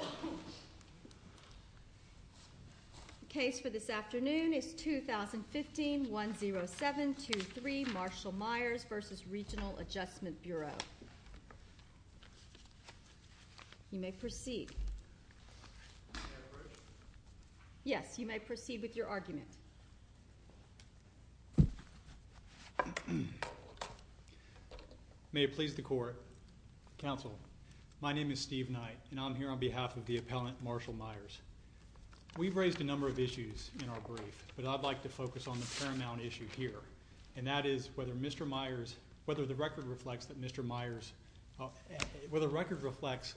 The case for this afternoon is 2015-10723 Marshall Myers v. Regional Adjustment Bureau. You may proceed. Yes, you may proceed with your argument. May it please the Court. Counsel, my name is Steve Knight, and I'm here on behalf of the appellant Marshall Myers. We've raised a number of issues in our brief, but I'd like to focus on the paramount issue here, and that is whether Mr. Myers, whether the record reflects that Mr. Myers, whether the record reflects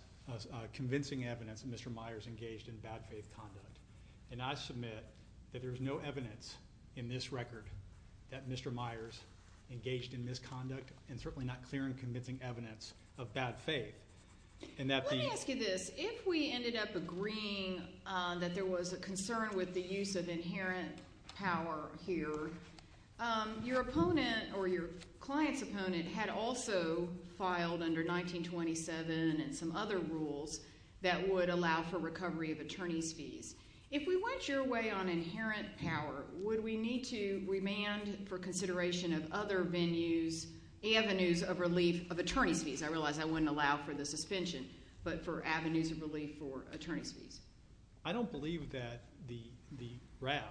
convincing evidence that Mr. Myers engaged in bad faith conduct. And I submit that there's no evidence in this record that Mr. Myers engaged in misconduct and certainly not clear and convincing evidence of bad faith. Let me ask you this. If we ended up agreeing that there was a concern with the use of inherent power here, your client's opponent had also filed under 1927 and some other rules that would allow for recovery of attorney fees. If we went your way on inherent power, would we need to remand for consideration of other venues, avenues of relief of attorney fees? I realize I wouldn't allow for the suspension, but for avenues of relief for attorney fees. I don't believe that the RAB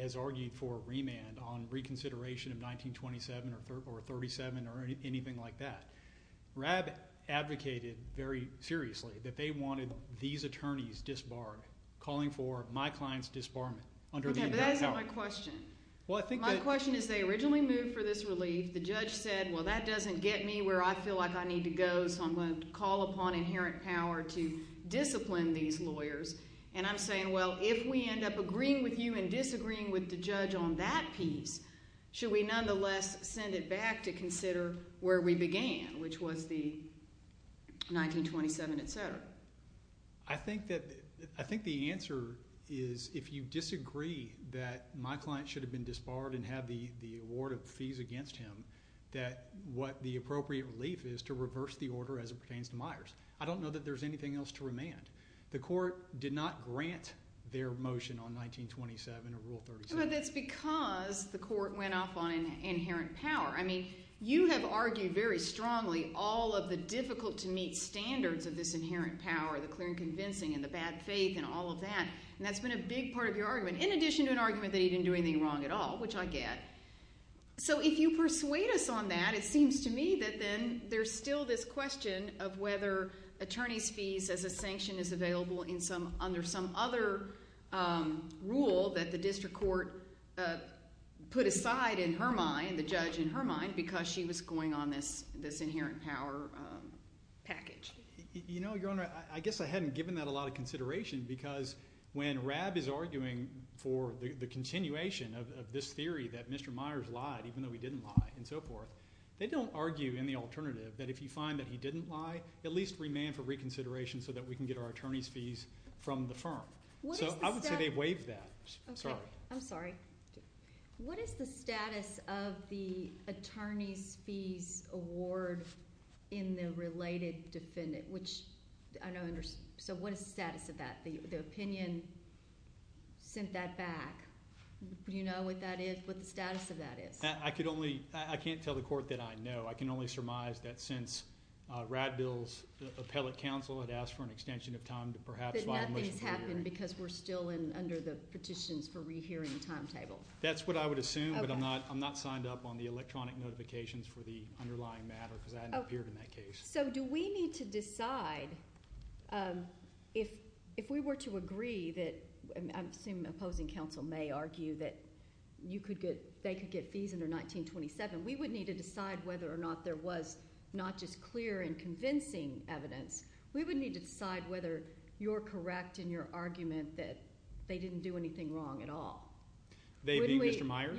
has argued for remand on reconsideration of 1927 or 37 or anything like that. RAB advocated very seriously that they wanted these attorneys disbarred, calling for my client's disbarment. Okay, but that's not my question. My question is they originally moved for this relief. The judge said, well, that doesn't get me where I feel like I need to go, so I'm going to call upon inherent power to discipline these lawyers. I'm saying, well, if we end up agreeing with you and disagreeing with the judge on that piece, should we nonetheless send it back to consider where we began, which was the 1927, et cetera? I think the answer is if you disagree that my client should have been disbarred and have the award of fees against him, that what the appropriate relief is to reverse the order as it pertains to Myers. I don't know that there's anything else to remand. The court did not grant their motion on 1927 or Rule 37. But that's because the court went off on inherent power. I mean, you have argued very strongly all of the difficult-to-meet standards of this inherent power, the clear and convincing and the bad faith and all of that. And that's been a big part of your argument, in addition to an argument that you didn't do anything wrong at all, which I get. So if you persuade us on that, it seems to me that then there's still this question of whether attorney's fees as a sanction is available under some other rule that the district court put aside in her mind, the judge in her mind, because she was going on this inherent power package. Your Honor, I guess I hadn't given that a lot of consideration because when RAB is arguing for the continuation of this theory that Mr. Myers lied, even though he didn't lie, and so forth, they don't argue any alternative that if you find that he didn't lie, at least remand for reconsideration so that we can get our attorney's fees from the firm. So I would say they waive that. I'm sorry. What is the status of the attorney's fees award in the related defendant? So what is the status of that? The opinion sent that back. Do you know what that is, what the status of that is? I can't tell the court that I know. I can only surmise that since RAB Bill's appellate counsel had asked for an extension of time to perhaps… Nothing has happened because we're still under the petitions for rehearing timetable. That's what I would assume, but I'm not signed up on the electronic notifications for the underlying matter because I haven't appeared in that case. So do we need to decide if we were to agree that – I'm assuming the opposing counsel may argue that you could get – they could get fees under 1927. We would need to decide whether or not there was not just clear and convincing evidence. We would need to decide whether you're correct in your argument that they didn't do anything wrong at all. They didn't get the Myers?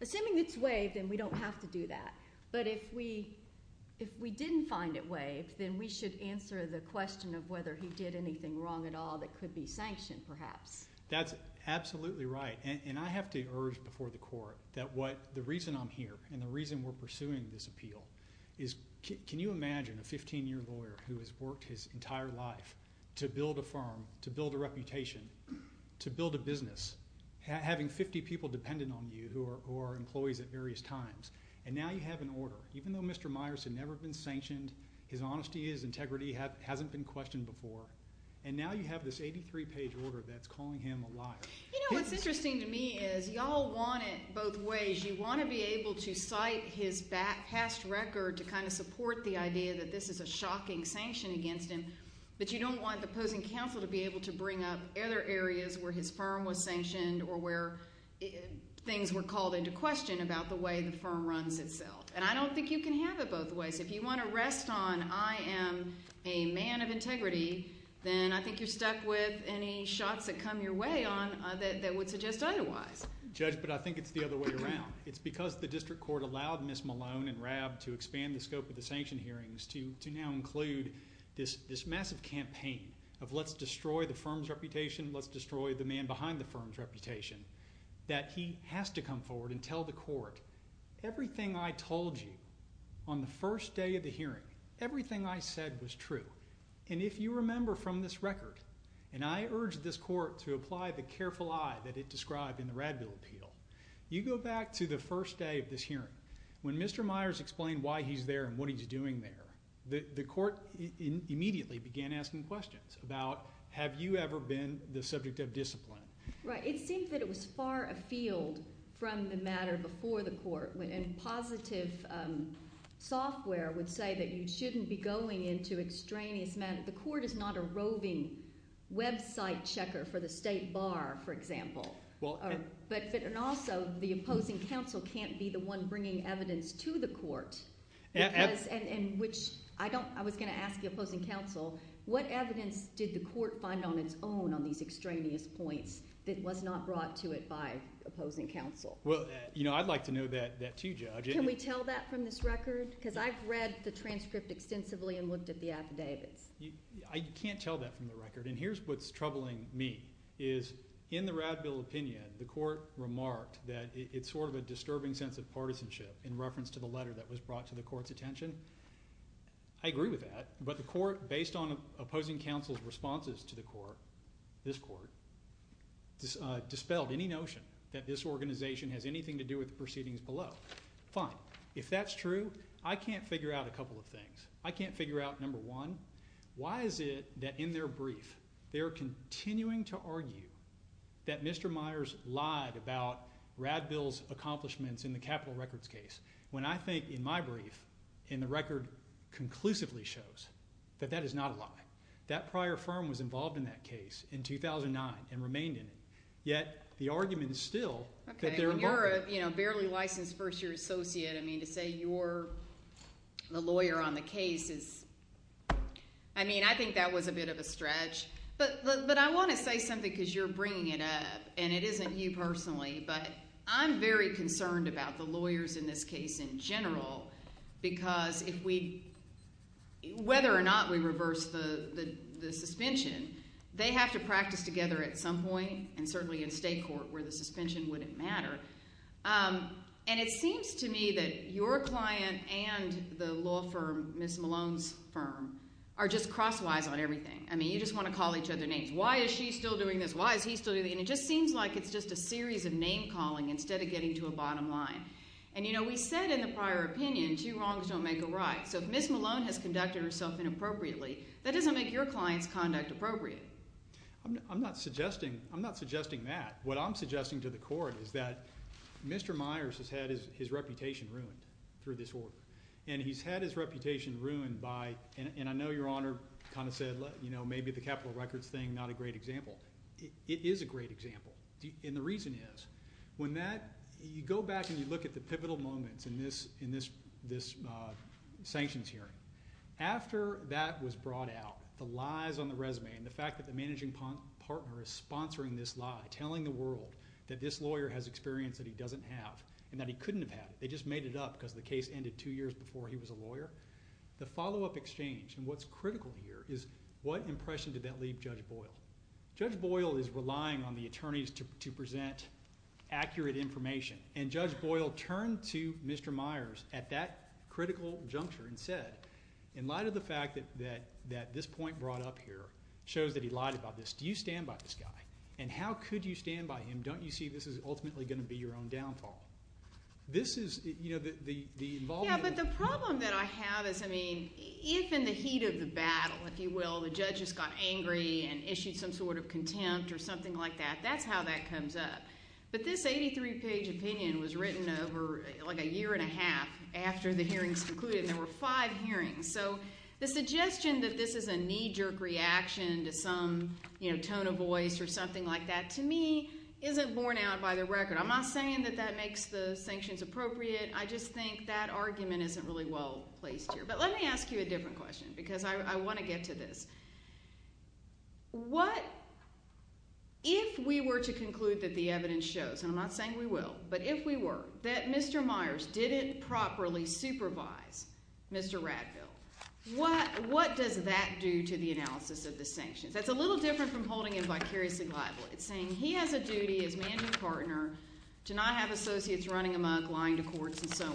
Assuming it's waived, then we don't have to do that. But if we didn't find it waived, then we should answer the question of whether he did anything wrong at all that could be sanctioned perhaps. That's absolutely right, and I have to urge before the court that what – the reason I'm here and the reason we're pursuing this appeal is can you imagine a 15-year lawyer who has worked his entire life to build a firm, to build a reputation, to build a business, having 50 people dependent on you who are employees at various times, and now you have an order. Even though Mr. Myers had never been sanctioned, his honesty, his integrity hasn't been questioned before, and now you have this 83-page order that's calling him a liar. You know, what's interesting to me is you all want it both ways. You want to be able to cite his past record to kind of support the idea that this is a shocking sanction against him, but you don't want the opposing counsel to be able to bring up other areas where his firm was sanctioned or where things were called into question about the way the firm runs itself. And I don't think you can have it both ways. If you want to rest on I am a man of integrity, then I think you're stuck with any shots that come your way on that would suggest otherwise. Judge, but I think it's the other way around. It's because the district court allowed Ms. Malone and Rab to expand the scope of the sanction hearings to now include this massive campaign of let's destroy the firm's reputation, let's destroy the man behind the firm's reputation, that he has to come forward and tell the court, everything I told you on the first day of the hearing, everything I said was true. And if you remember from this record, and I urge this court to apply the careful eye that it described in the Radbill appeal, you go back to the first day of this hearing. When Mr. Myers explained why he's there and what he's doing there, the court immediately began asking questions about, have you ever been the subject of discipline? Right. It seems that it was far afield from the matter before the court, and positive software would say that you shouldn't be going into extraneous matters. The court is not a roving website checker for the state bar, for example. And also, the opposing counsel can't be the one bringing evidence to the court. I was going to ask the opposing counsel, what evidence did the court find on its own on these extraneous points that was not brought to it by opposing counsel? Well, I'd like to know that too, Judge. Can we tell that from this record? Because I've read the transcript extensively and looked at the affidavits. You can't tell that from the record, and here's what's troubling me, is in the Radbill opinion, the court remarked that it's sort of a disturbing sense of partisanship in reference to the letter that was brought to the court's attention. I agree with that, but the court, based on opposing counsel's responses to the court, this court, dispelled any notion that this organization has anything to do with the proceedings below. Fine. If that's true, I can't figure out a couple of things. I can't figure out, number one, why is it that in their brief, they're continuing to argue that Mr. Myers lied about Radbill's accomplishments in the capital records case, when I think in my brief, in the record, conclusively shows that that is not a lie. That prior firm was involved in that case in 2009 and remained in it, yet the argument is still that they're involved. Okay, when you're a barely licensed first-year associate, I mean, to say you're the lawyer on the case is, I mean, I think that was a bit of a stretch. But I want to say something, because you're bringing it up, and it isn't you personally, but I'm very concerned about the lawyers in this case in general, because if we, whether or not we reverse the suspension, they have to practice together at some point, and certainly in state court, where the suspension wouldn't matter. And it seems to me that your client and the law firm, Ms. Malone's firm, are just crosswise on everything. I mean, you just want to call each other names. Why is she still doing this? Why is he still doing this? And it just seems like it's just a series of name-calling instead of getting to a bottom line. And, you know, we said in the prior opinion, two wrongs don't make a right. So if Ms. Malone has conducted herself inappropriately, that doesn't make your client's conduct appropriate. I'm not suggesting that. What I'm suggesting to the court is that Mr. Myers has had his reputation ruined through this order, and he's had his reputation ruined by – and I know Your Honor kind of said, you know, maybe the Capitol records thing, not a great example. It is a great example, and the reason is, when that – you go back and you look at the pivotal moments in this sanctions hearing. After that was brought out, the lies on the resume and the fact that the managing partner is sponsoring this lie, telling the world that this lawyer has experience that he doesn't have and that he couldn't have had it, they just made it up because the case ended two years before he was a lawyer. The follow-up exchange, and what's critical here, is what impression did that leave Judge Boyle? Judge Boyle is relying on the attorneys to present accurate information, and Judge Boyle turned to Mr. Myers at that critical juncture and said, in light of the fact that this point brought up here shows that he lied about this, do you stand by this guy, and how could you stand by him? Don't you see this is ultimately going to be your own downfall? This is – you know, the involvement – I just think that argument isn't really well placed here, but let me ask you a different question because I want to get to this. What – if we were to conclude that the evidence shows, and I'm not saying we will, but if we were, that Mr. Myers didn't properly supervise Mr. Radfield, what does that do to the analysis of the sanctions? That's a little different from holding him vicariously liable. It's saying he has a duty as manager's partner to not have associates running amok, lying to courts, and so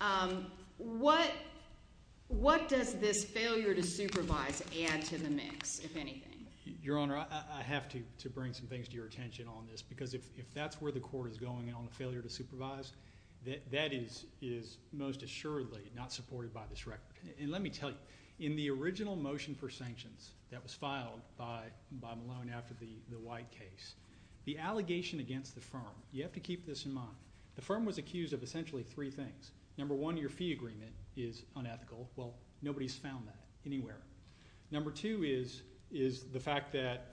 on. What does this failure to supervise add to the mix, if anything? Your Honor, I have to bring some things to your attention on this because if that's where the court is going on the failure to supervise, that is most assuredly not supported by this record. And let me tell you, in the original motion for sanctions that was filed by Malone after the White case, the allegation against the firm – you have to keep this in mind. The firm was accused of essentially three things. Number one, your fee agreement is unethical. Well, nobody's found that anywhere. Number two is the fact that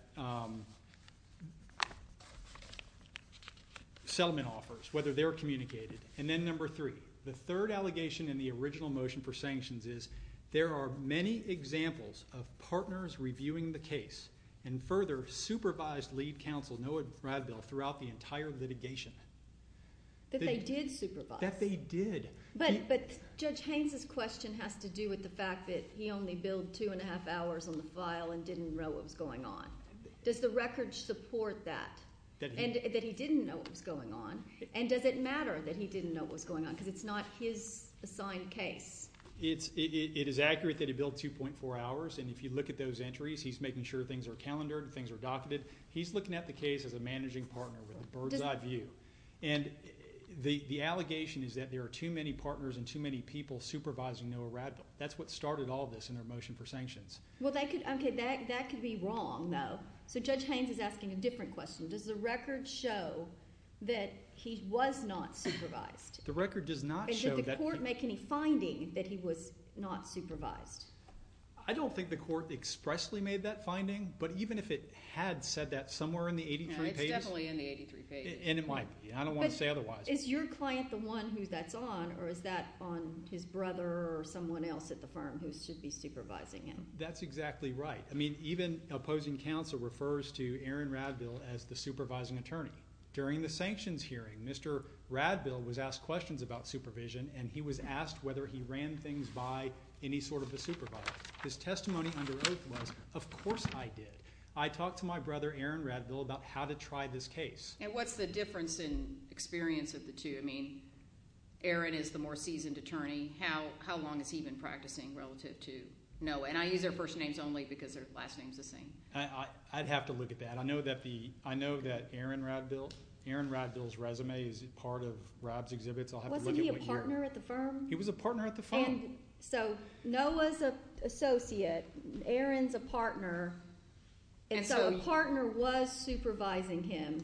Selman offers, whether they're communicated. And then number three, the third allegation in the original motion for sanctions is there are many examples of partners reviewing the case and further supervised lead counsel, Noah Radfield, throughout the entire litigation. That they did supervise. That they did. But Judge Haines' question has to do with the fact that he only billed two and a half hours on the file and didn't know what was going on. Does the record support that, that he didn't know what was going on? And does it matter that he didn't know what was going on because it's not his assigned case? It is accurate that he billed 2.4 hours, and if you look at those entries, he's making sure things are calendared, things are docketed. He's looking at the case as a managing partner with a bird's eye view. And the allegation is that there are too many partners and too many people supervising Noah Radfield. That's what started all this in our motion for sanctions. Well, that could be wrong, though. So Judge Haines is asking a different question. Does the record show that he was not supervised? The record does not show that... And did the court make any finding that he was not supervised? I don't think the court expressly made that finding, but even if it had said that somewhere in the 83 pages... And it's definitely in the 83 pages. And it might be. I don't want to say otherwise. But is your client the one who that's on, or is that on his brother or someone else at the firm who should be supervising him? That's exactly right. I mean, even opposing counsel refers to Aaron Radville as the supervising attorney. During the sanctions hearing, Mr. Radville was asked questions about supervision, and he was asked whether he ran things by any sort of a supervisor. His testimony under oath was, of course I did. I talked to my brother, Aaron Radville, about how to try this case. And what's the difference in experience of the two? I mean, Aaron is the more seasoned attorney. How long has he been practicing relative to Noah? And I use their first names only because their last names are the same. I'd have to look at that. I know that Aaron Radville's resume is part of Rob's exhibit. Wasn't he a partner at the firm? He was a partner at the firm. So Noah's an associate, Aaron's a partner, and so a partner was supervising him.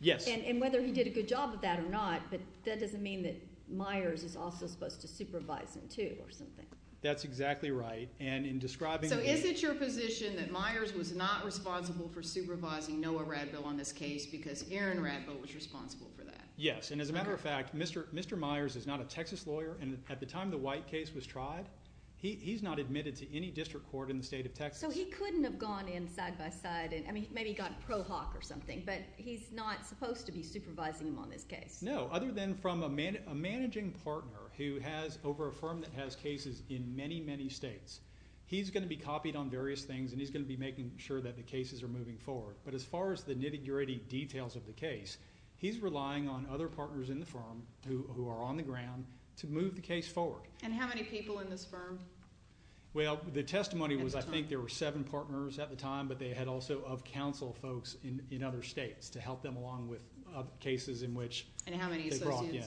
Yes. And whether he did a good job of that or not, but that doesn't mean that Myers is also supposed to supervise him too or something. That's exactly right. And in describing... So is it your position that Myers was not responsible for supervising Noah Radville on this case because Aaron Radville was responsible for that? Yes. And as a matter of fact, Mr. Myers is not a Texas lawyer, and at the time the White case was tried, he's not admitted to any district court in the state of Texas. So he couldn't have gone in side-by-side. I mean, maybe he got pro hoc or something, but he's not supposed to be supervising him on this case. No, other than from a managing partner who has over a firm that has cases in many, many states. He's going to be copied on various things, and he's going to be making sure that the cases are moving forward. But as far as the nitty-gritty details of the case, he's relying on other partners in the firm who are on the ground to move the case forward. And how many people in this firm? Well, the testimony was I think there were seven partners at the time, but they had also council folks in other states to help them along with cases in which they brought in. And how many associates?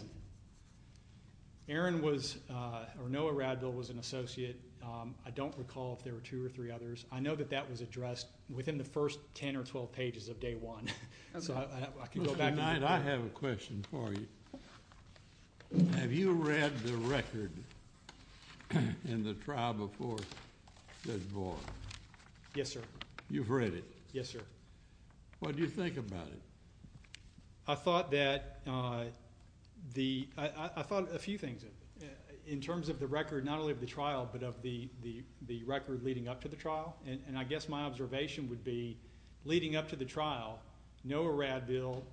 Aaron was – or Noah Radville was an associate. I don't recall if there were two or three others. I know that that was addressed within the first 10 or 12 pages of day one. I have a question for you. Have you read the record in the trial before it was born? Yes, sir. You've read it? Yes, sir. What do you think about it? I thought that the – I thought a few things in terms of the record, not only of the trial, but of the record leading up to the trial. And I guess my observation would be leading up to the trial, Noah Radville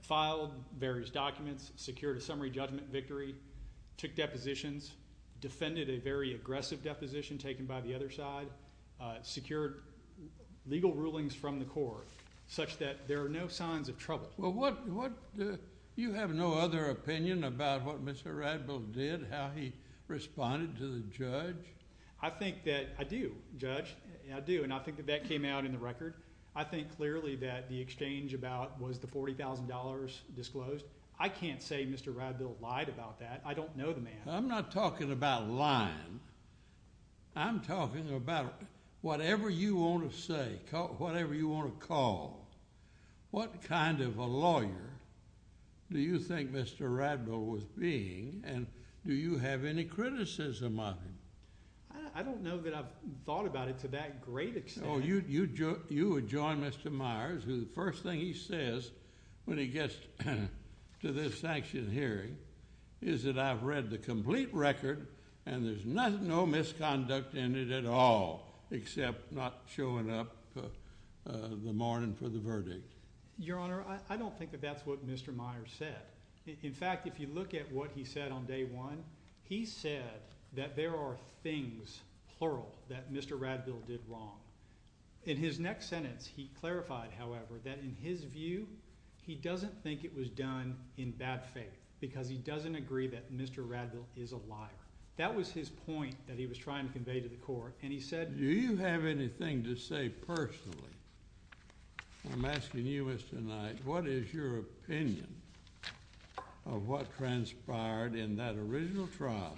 filed various documents, secured a summary judgment victory, took depositions, defended a very aggressive deposition taken by the other side, secured legal rulings from the court such that there are no signs of trouble. Well, what – you have no other opinion about what Mr. Radville did, how he responded to the judge? I think that – I do, Judge. I do, and I think that that came out in the record. I think clearly that the exchange about was the $40,000 disclosed. I can't say Mr. Radville lied about that. I don't know the man. I'm not talking about lying. I'm talking about whatever you want to say, whatever you want to call. What kind of a lawyer do you think Mr. Radville was being, and do you have any criticism of him? I don't know that I've thought about it to that great extent. Oh, you would join Mr. Myers, who the first thing he says when he gets to this action hearing is that I've read the complete record, and there's no misconduct in it at all except not showing up in the morning for the verdict. Your Honor, I don't think that that's what Mr. Myers said. In fact, if you look at what he said on day one, he said that there are things, plural, that Mr. Radville did wrong. In his next sentence, he clarified, however, that in his view, he doesn't think it was done in bad faith because he doesn't agree that Mr. Radville is a liar. That was his point that he was trying to convey to the Court, and he said— Do you have anything to say personally? I'm asking you, Mr. Knight, what is your opinion of what transpired in that original trial?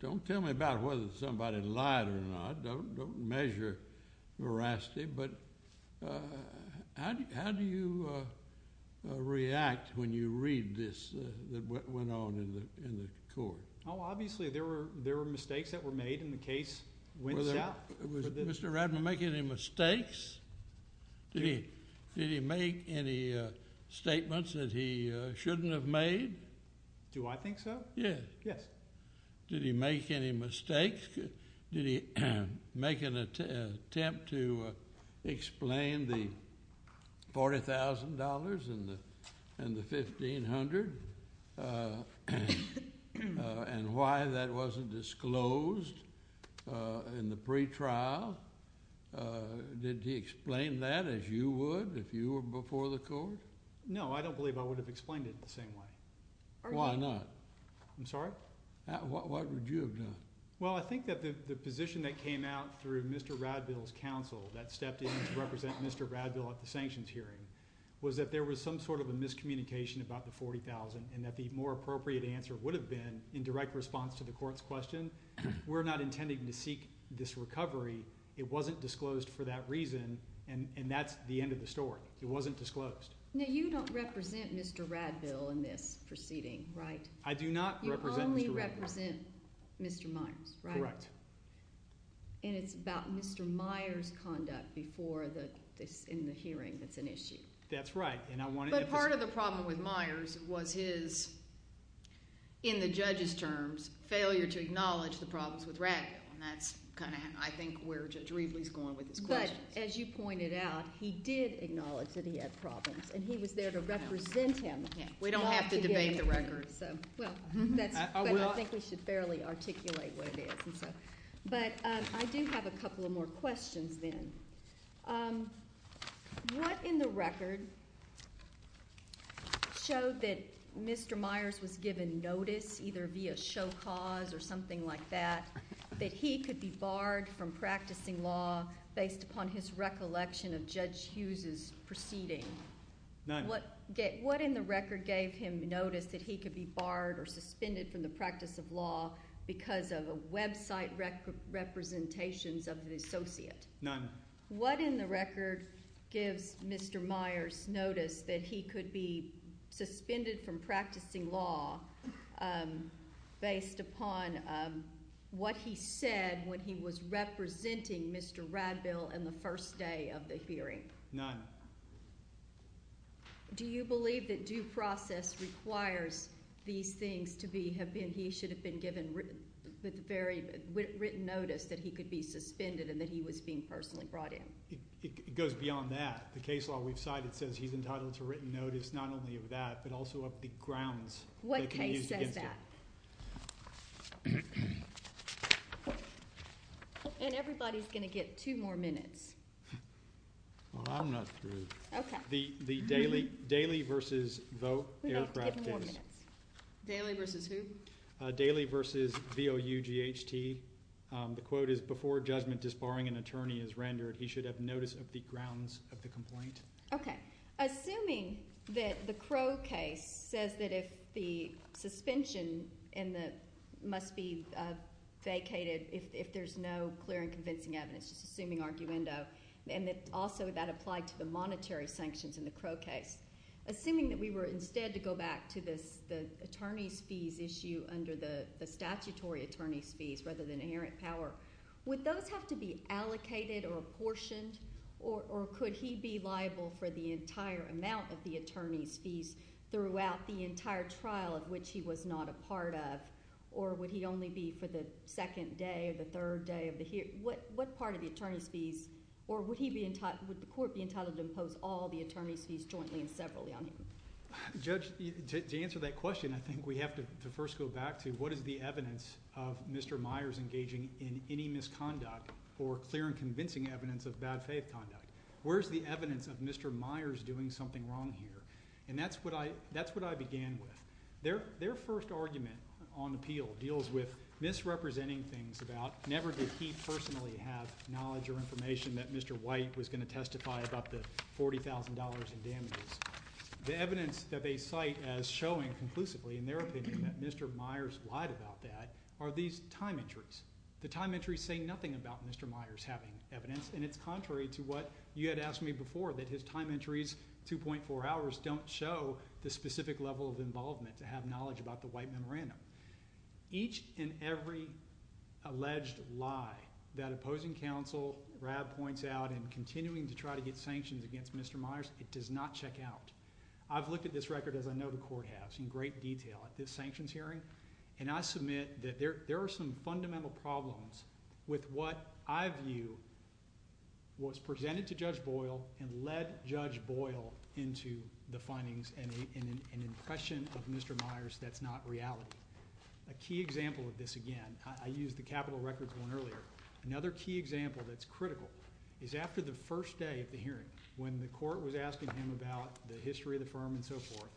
Don't tell me about whether somebody lied or not. Don't measure veracity, but how do you react when you read this, what went on in the Court? Obviously, there were mistakes that were made, and the case went south. Did Mr. Radville make any mistakes? Did he make any statements that he shouldn't have made? Do I think so? Yes. Yes. Did he make any mistakes? Did he make an attempt to explain the $40,000 and the $1,500 and why that wasn't disclosed in the pretrial? Did he explain that as you would if you were before the Court? No, I don't believe I would have explained it the same way. Why not? What would you have done? Well, I think that the position that came out through Mr. Radville's counsel, that stepped in to represent Mr. Radville at the sanctions hearing, was that there was some sort of a miscommunication about the $40,000 and that the more appropriate answer would have been, in direct response to the Court's question, we're not intending to seek this recovery. It wasn't disclosed for that reason, and that's the end of the story. It wasn't disclosed. Now, you don't represent Mr. Radville in this proceeding, right? I do not represent Mr. Radville. You only represent Mr. Myers, right? Correct. And it's about Mr. Myers' conduct in the hearing that's an issue. That's right. But part of the problem with Myers was his, in the judge's terms, failure to acknowledge the problems with Radville, and that's kind of, I think, where Judge Riebley's going with this question. But, as you pointed out, he did acknowledge that he had problems, and he was there to represent him. We don't have to debate the record. Well, I think we should fairly articulate what it is. But I do have a couple more questions then. What in the record showed that Mr. Myers was given notice, either via show cause or something like that, that he could be barred from practicing law based upon his recollection of Judge Hughes' proceedings? None. What in the record gave him notice that he could be barred or suspended from the practice of law because of a website representation of the associates? None. What in the record gives Mr. Myers notice that he could be suspended from practicing law based upon what he said when he was representing Mr. Radville in the first day of the hearing? None. Do you believe that due process requires these things to be, he should have been given written notice that he could be suspended and that he was being personally brought in? It goes beyond that. The case law would cite it says he's entitled to written notice not only of that, but also of the grounds. What case said that? And everybody's going to get two more minutes. Well, I'm not through. Okay. The Daley versus Vought aircraft case. Daley versus who? Daley versus V-O-U-G-H-T. The quote is, before judgment is barring an attorney is rendered, he should have notice of the grounds of the complaint. Okay. Assuming that the Crow case says that if the suspension must be vacated if there's no clear and convincing evidence, and that also that applies to the monetary sanctions in the Crow case, assuming that we were instead to go back to the attorney's fees issue under the statutory attorney's fees rather than inherent power, would those have to be allocated or apportioned? Or could he be liable for the entire amount of the attorney's fees throughout the entire trial of which he was not a part of? Or would he only be for the second day or the third day of the hearing? What part of the attorney's fees or would the court be entitled to impose all the attorney's fees jointly or separately on him? Judge, to answer that question, I think we have to first go back to what is the evidence of Mr. Myers engaging in any misconduct for clear and convincing evidence of bad faith conduct. Where's the evidence of Mr. Myers doing something wrong here? And that's what I began with. Their first argument on appeal deals with misrepresenting things about never did he personally have knowledge or information that Mr. White was going to testify about the $40,000 in damages. The evidence that they cite as showing conclusively in their opinion that Mr. Myers lied about that are these time entries. The time entries say nothing about Mr. Myers having evidence, and it's contrary to what you had asked me before, that his time entries, 2.4 hours, don't show the specific level of involvement to have knowledge about the White memorandum. Each and every alleged lie that opposing counsel, Rav, points out in continuing to try to get sanctions against Mr. Myers, it does not check out. I've looked at this record, as I know the court has, in great detail at this sanctions hearing, and I submit that there are some fundamental problems with what I view was presented to Judge Boyle and led Judge Boyle into the findings and impression of Mr. Myers that's not reality. A key example of this, again, I used the capital records one earlier. Another key example that's critical is after the first day of the hearing, when the court was asking him about the history of the firm and so forth,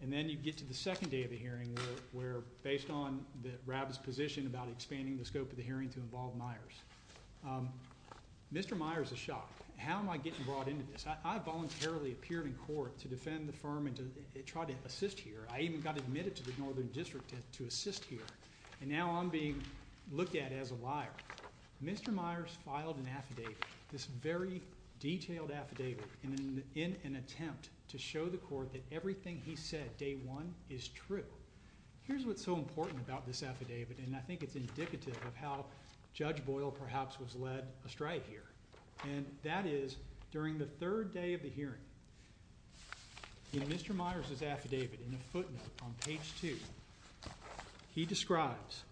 and then you get to the second day of the hearing where, based on Rav's position about expanding the scope of the hearing to involve Myers, Mr. Myers is shot. How am I getting brought into this? I voluntarily appeared in court to defend the firm and to try to assist here. I even got admitted to the Northern District to assist here, and now I'm being looked at as a liar. Mr. Myers filed an affidavit, this very detailed affidavit, in an attempt to show the court that everything he said day one is true. Here's what's so important about this affidavit, and I think it's indicative of how Judge Boyle perhaps was led astray here, and that is, during the third day of the hearing, in Mr. Myers' affidavit, in the footnote on page two, he describes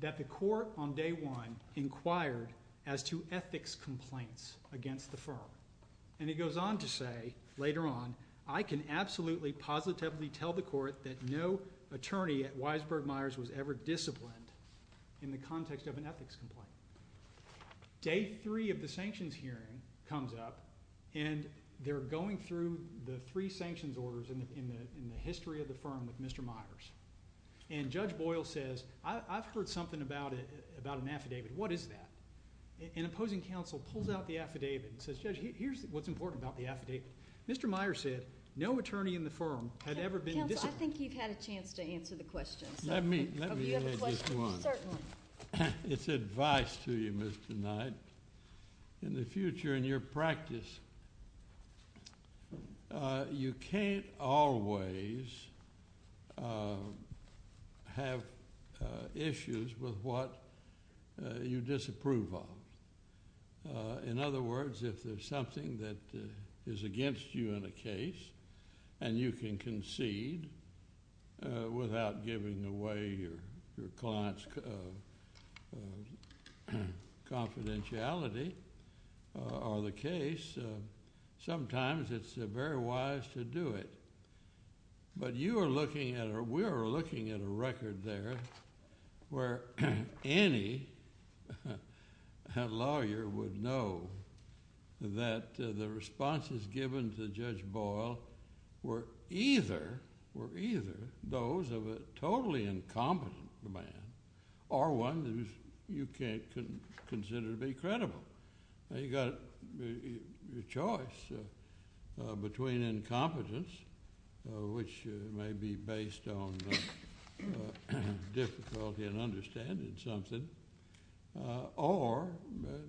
that the court on day one inquired as to ethics complaints against the firm, and he goes on to say later on, I can absolutely positively tell the court that no attorney at Weisberg Myers was ever disciplined in the context of an ethics complaint. Day three of the sanctions hearing comes up, and they're going through the three sanctions orders in the history of the firm with Mr. Myers, and Judge Boyle says, I've heard something about an affidavit, what is that? And the opposing counsel pulls out the affidavit and says, Judge, here's what's important about the affidavit. Mr. Myers said, no attorney in the firm had ever been disciplined. I think you've had a chance to answer the question. Let me answer this one. It's advice to you, Mr. Knight, in the future in your practice. You can't always have issues with what you disapprove of. In other words, if there's something that is against you in a case, and you can concede without giving away your client's confidentiality on the case, sometimes it's very wise to do it. But we're looking at a record there where any lawyer would know that the responses given to Judge Boyle were either those of a totally incompetent man or one that you can't consider to be credible. You've got your choice between incompetence, which may be based on difficulty in understanding something, or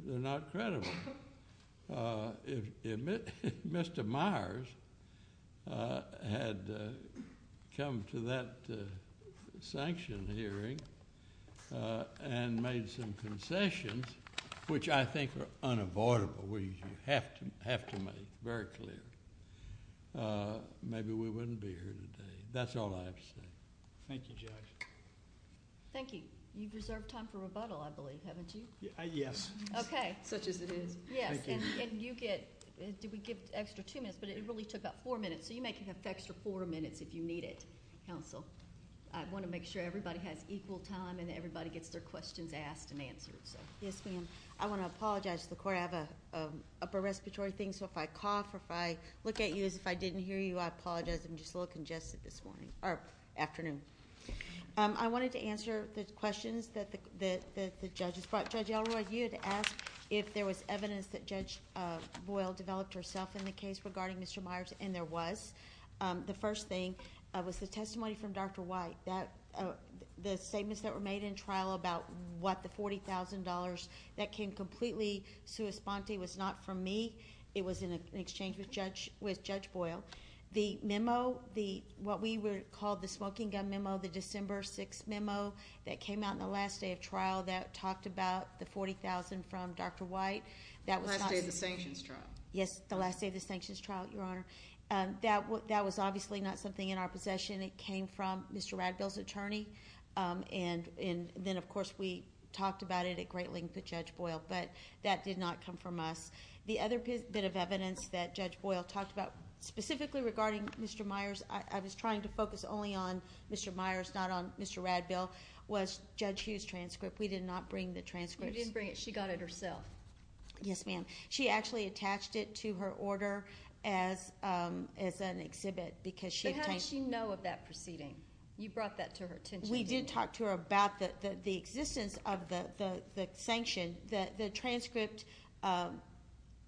they're not credible. If Mr. Myers had come to that sanction hearing and made some concessions, which I think are unavoidable, which you have to make very clear, maybe we wouldn't be here today. That's all I have to say. Thank you, Judge. Thank you. You deserve time for rebuttal, I believe, haven't you? Yes. Okay. Such as it is. Yes. And you get an extra two minutes, but it really took about four minutes. So you may get an extra four minutes if you need it, counsel. I want to make sure everybody has equal time and everybody gets their questions asked and answered. Yes, ma'am. I want to apologize to the court. I have an upper respiratory thing, so if I cough or if I look at you as if I didn't hear you, I apologize. I'm just a little congested this afternoon. I wanted to answer the questions that the judges brought. Judge Ellroy, you had asked if there was evidence that Judge Boyle developed herself in the case regarding Mr. Myers, and there was. The first thing was the testimony from Dr. White. The statements that were made in trial about what the $40,000 that can completely sue Esponsi was not from me. It was in exchange with Judge Boyle. The memo, what we would call the smoking gun memo, the December 6th memo that came out in the last day of trial that talked about the $40,000 from Dr. White. The last day of the sanctions trial. Yes, the last day of the sanctions trial, Your Honor. That was obviously not something in our possession. It came from Mr. Ragdoll's attorney, and then, of course, we talked about it at great lengths with Judge Boyle. But that did not come from us. The other bit of evidence that Judge Boyle talked about, specifically regarding Mr. Myers, I was trying to focus only on Mr. Myers, not on Mr. Ragdoll, was Judge Hsu's transcript. We did not bring the transcript. You didn't bring it. She got it herself. Yes, ma'am. She actually attached it to her order as an exhibit because she… But how did she know of that proceeding? You brought that to her attention. We did talk to her about the existence of the sanctions. The transcript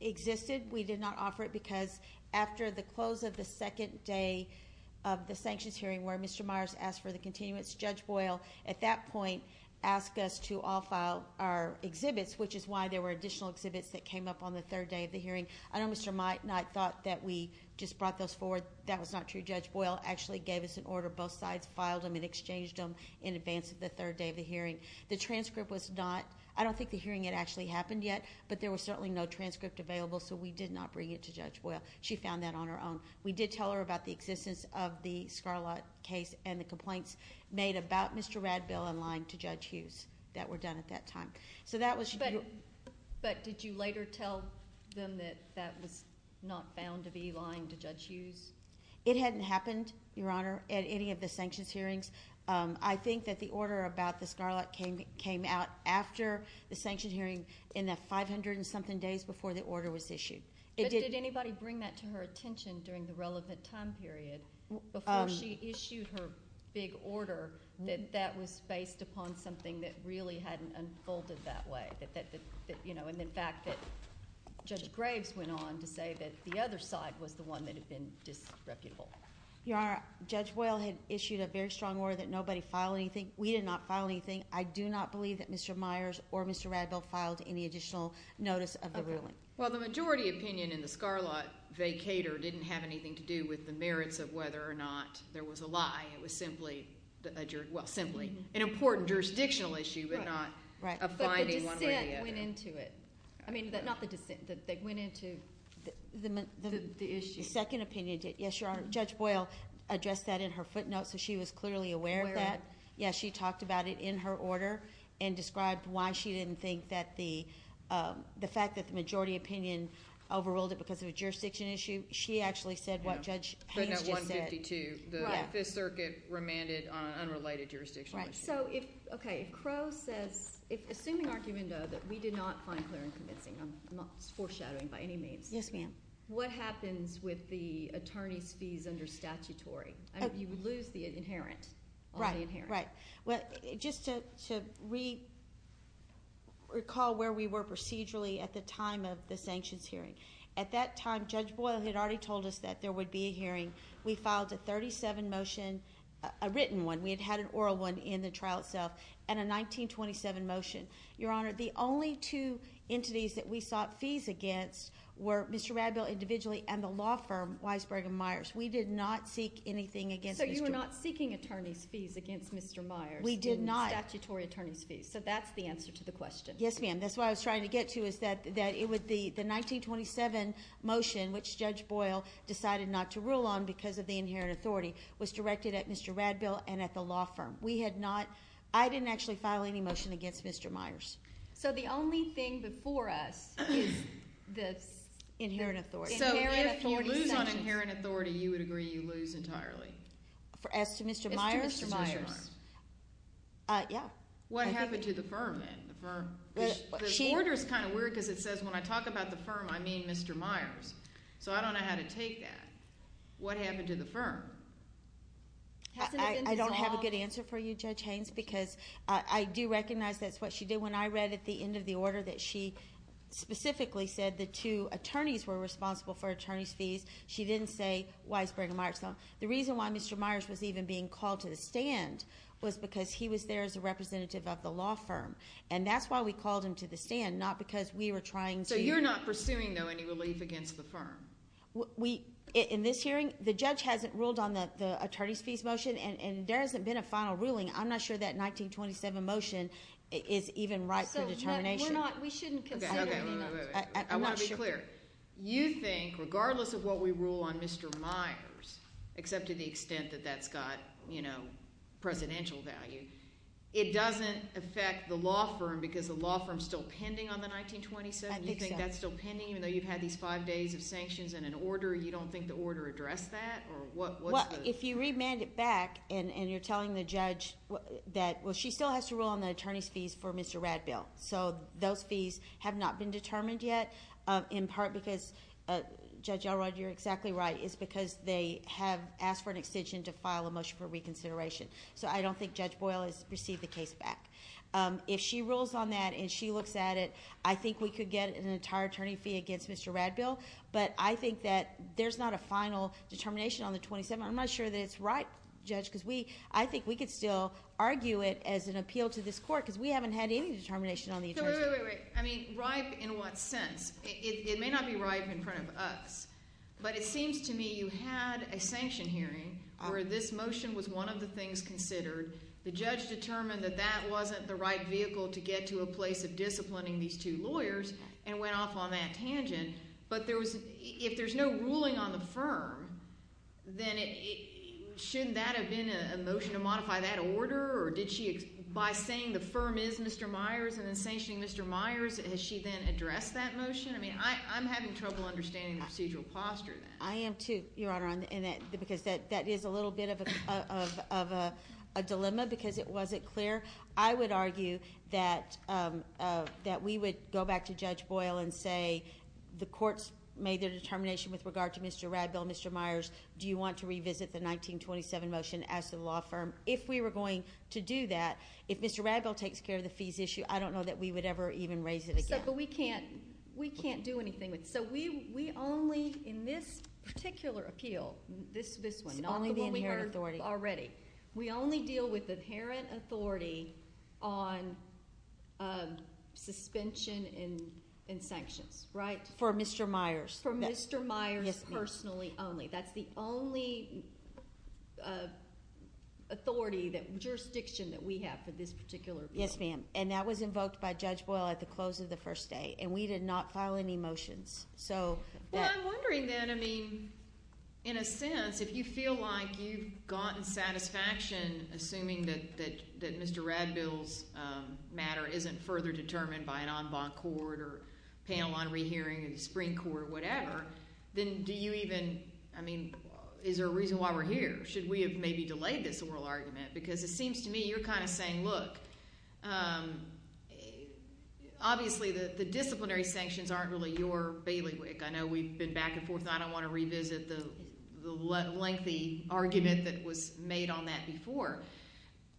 existed. We did not offer it because after the close of the second day of the sanctions hearing where Mr. Myers asked for the continuance, Judge Boyle, at that point, asked us to all file our exhibits, which is why there were additional exhibits that came up on the third day of the hearing. I know Mr. Mike and I thought that we just brought those forward. That was not true. Judge Boyle actually gave us an order. Both sides filed them and exchanged them in advance of the third day of the hearing. The transcript was not… I don't think the hearing had actually happened yet, but there was certainly no transcript available, so we did not bring it to Judge Boyle. She found that on her own. We did tell her about the existence of the Scarlatt case and the complaints made about Mr. Ragdoll and lying to Judge Hsu that were done at that time. But did you later tell them that that was not found to be lying to Judge Hsu? It hadn't happened, Your Honor, at any of the sanctions hearings. I think that the order about the Scarlatt came out after the sanctions hearing in the 500-and-something days before the order was issued. Did anybody bring that to her attention during the relevant time period before she issued her big order that that was based upon something that really hadn't unfolded that way? And the fact that Judge Gregg went on to say that the other side was the one that had been disrespectful. Your Honor, Judge Boyle had issued a very strong order that nobody filed anything. We did not file anything. I do not believe that Mr. Myers or Mr. Ragdoll filed any additional notice of the ruling. Well, the majority opinion in the Scarlatt vacator didn't have anything to do with the merits of whether or not there was a lie. It was simply an important jurisdictional issue, but not a finding one way or the other. But they went into it. I mean, not that they went into the issue. The second opinion, yes, Your Honor, Judge Boyle addressed that in her footnote, so she was clearly aware of that. Yes, she talked about it in her order and described why she didn't think that the fact that the majority opinion overruled it because of a jurisdiction issue, she actually said what Judge Hsu said. The Fifth Circuit remanded on an unrelated jurisdiction issue. Right. So, okay, Crowe said, it's been an argument, though, that we did not find clearance missing. I'm not foreshadowing by any means. Yes, ma'am. What happens with the attorney's fees under statutory? You lose the inherent. Right, right. Just to recall where we were procedurally at the time of the sanctions hearing. At that time, Judge Boyle had already told us that there would be a hearing. We filed a 37 motion, a written one. We had had an oral one in the trial itself, and a 1927 motion. Your Honor, the only two entities that we sought fees against were Mr. Radbill individually and the law firm, Weisberg and Myers. We did not seek anything against Mr. Radbill. So you were not seeking attorney's fees against Mr. Myers. We did not. Statutory attorney's fees. So that's the answer to the question. Yes, ma'am. And that's what I was trying to get to is that it was the 1927 motion, which Judge Boyle decided not to rule on because of the inherent authority, was directed at Mr. Radbill and at the law firm. We had not, I didn't actually file any motion against Mr. Myers. So the only thing before us is the inherent authority. So if you lose on inherent authority, you would agree you lose entirely. As to Mr. Myers? As to Mr. Myers. Yes. What happened to the firm then? What happened to the firm? The order is kind of weird because it says when I talk about the firm, I mean Mr. Myers. So I don't know how to take that. What happened to the firm? I don't have a good answer for you, Judge Haynes, because I do recognize that's what she did. When I read at the end of the order that she specifically said the two attorneys were responsible for attorney's fees, she didn't say Weisberg and Myers. So the reason why Mr. Myers was even being called to the stand was because he was there as a representative of the law firm. And that's why we called him to the stand, not because we were trying to So you're not pursuing, though, any relief against the firm? We, in this hearing, the judge hasn't ruled on the attorney's fees motion, and there hasn't been a final ruling. I'm not sure that 1927 motion is even right for determination. We're not, we shouldn't I want to be clear. You think, regardless of what we rule on Mr. Myers, except to the extent that that's got, you know, presidential values, it doesn't affect the law firm because the law firm's still pending on the 1927? You think that's still pending, even though you've had these five days of sanctions and an order? You don't think the order addressed that? Well, if you remand it back, and you're telling the judge that, well, she still has to rule on the attorney's fees for Mr. Radville. So those fees have not been determined yet, in part because, Judge Elrod, you're exactly right, it's because they have asked for an extension to file a motion for reconsideration. So I don't think Judge Boyle has received the case back. If she rules on that and she looks at it, I think we could get an entire attorney fee against Mr. Radville, but I think that there's not a final determination on the 27th. I'm not sure that it's right, Judge, because we, I think we could still argue it as an appeal to this court because we haven't had any determination on the attorney's fees. So, wait, wait, wait, wait. I mean, right in what sense? It may not be right in front of us, but it seems to me you had a sanction hearing where this motion was one of the things considered. The judge determined that that wasn't the right vehicle to get to a place of disciplining these two lawyers and went off on that tangent. But if there's no ruling on the firm, then shouldn't that have been a motion to modify that order? Or did she, by saying the firm is Mr. Myers and then sanctioning Mr. Myers, has she then addressed that motion? I mean, I'm having trouble understanding procedural posture. I am, too, Your Honor, because that is a little bit of a dilemma because it wasn't clear. I would argue that we would go back to Judge Boyle and say the court's made a determination with regard to Mr. Radville, Mr. Myers, do you want to revisit the 1927 motion as the law firm? If we were going to do that, if Mr. Radville takes care of the fees issue, I don't know that we would ever even raise it again. But we can't do anything with it. So we only, in this particular appeal, this one, not the one we heard already, we only deal with inherent authority on suspension and sanctions, right? For Mr. Myers. For Mr. Myers personally only. That's the only authority, jurisdiction that we have for this particular case. Yes, ma'am. And that was invoked by Judge Boyle at the close of the first day. And we did not file any motions. Well, I'm wondering then, I mean, in a sense, if you feel like you've gotten satisfaction, assuming that Mr. Radville's matter isn't further determined by an en banc court or panel on rehearing, the Supreme Court or whatever, then do you even, I mean, is there a reason why we're here? Should we have maybe delayed this oral argument? Because it seems to me you're kind of saying, look, obviously the disciplinary sanctions aren't really your bailiwick. I know we've been back and forth. I don't want to revisit the lengthy argument that was made on that before.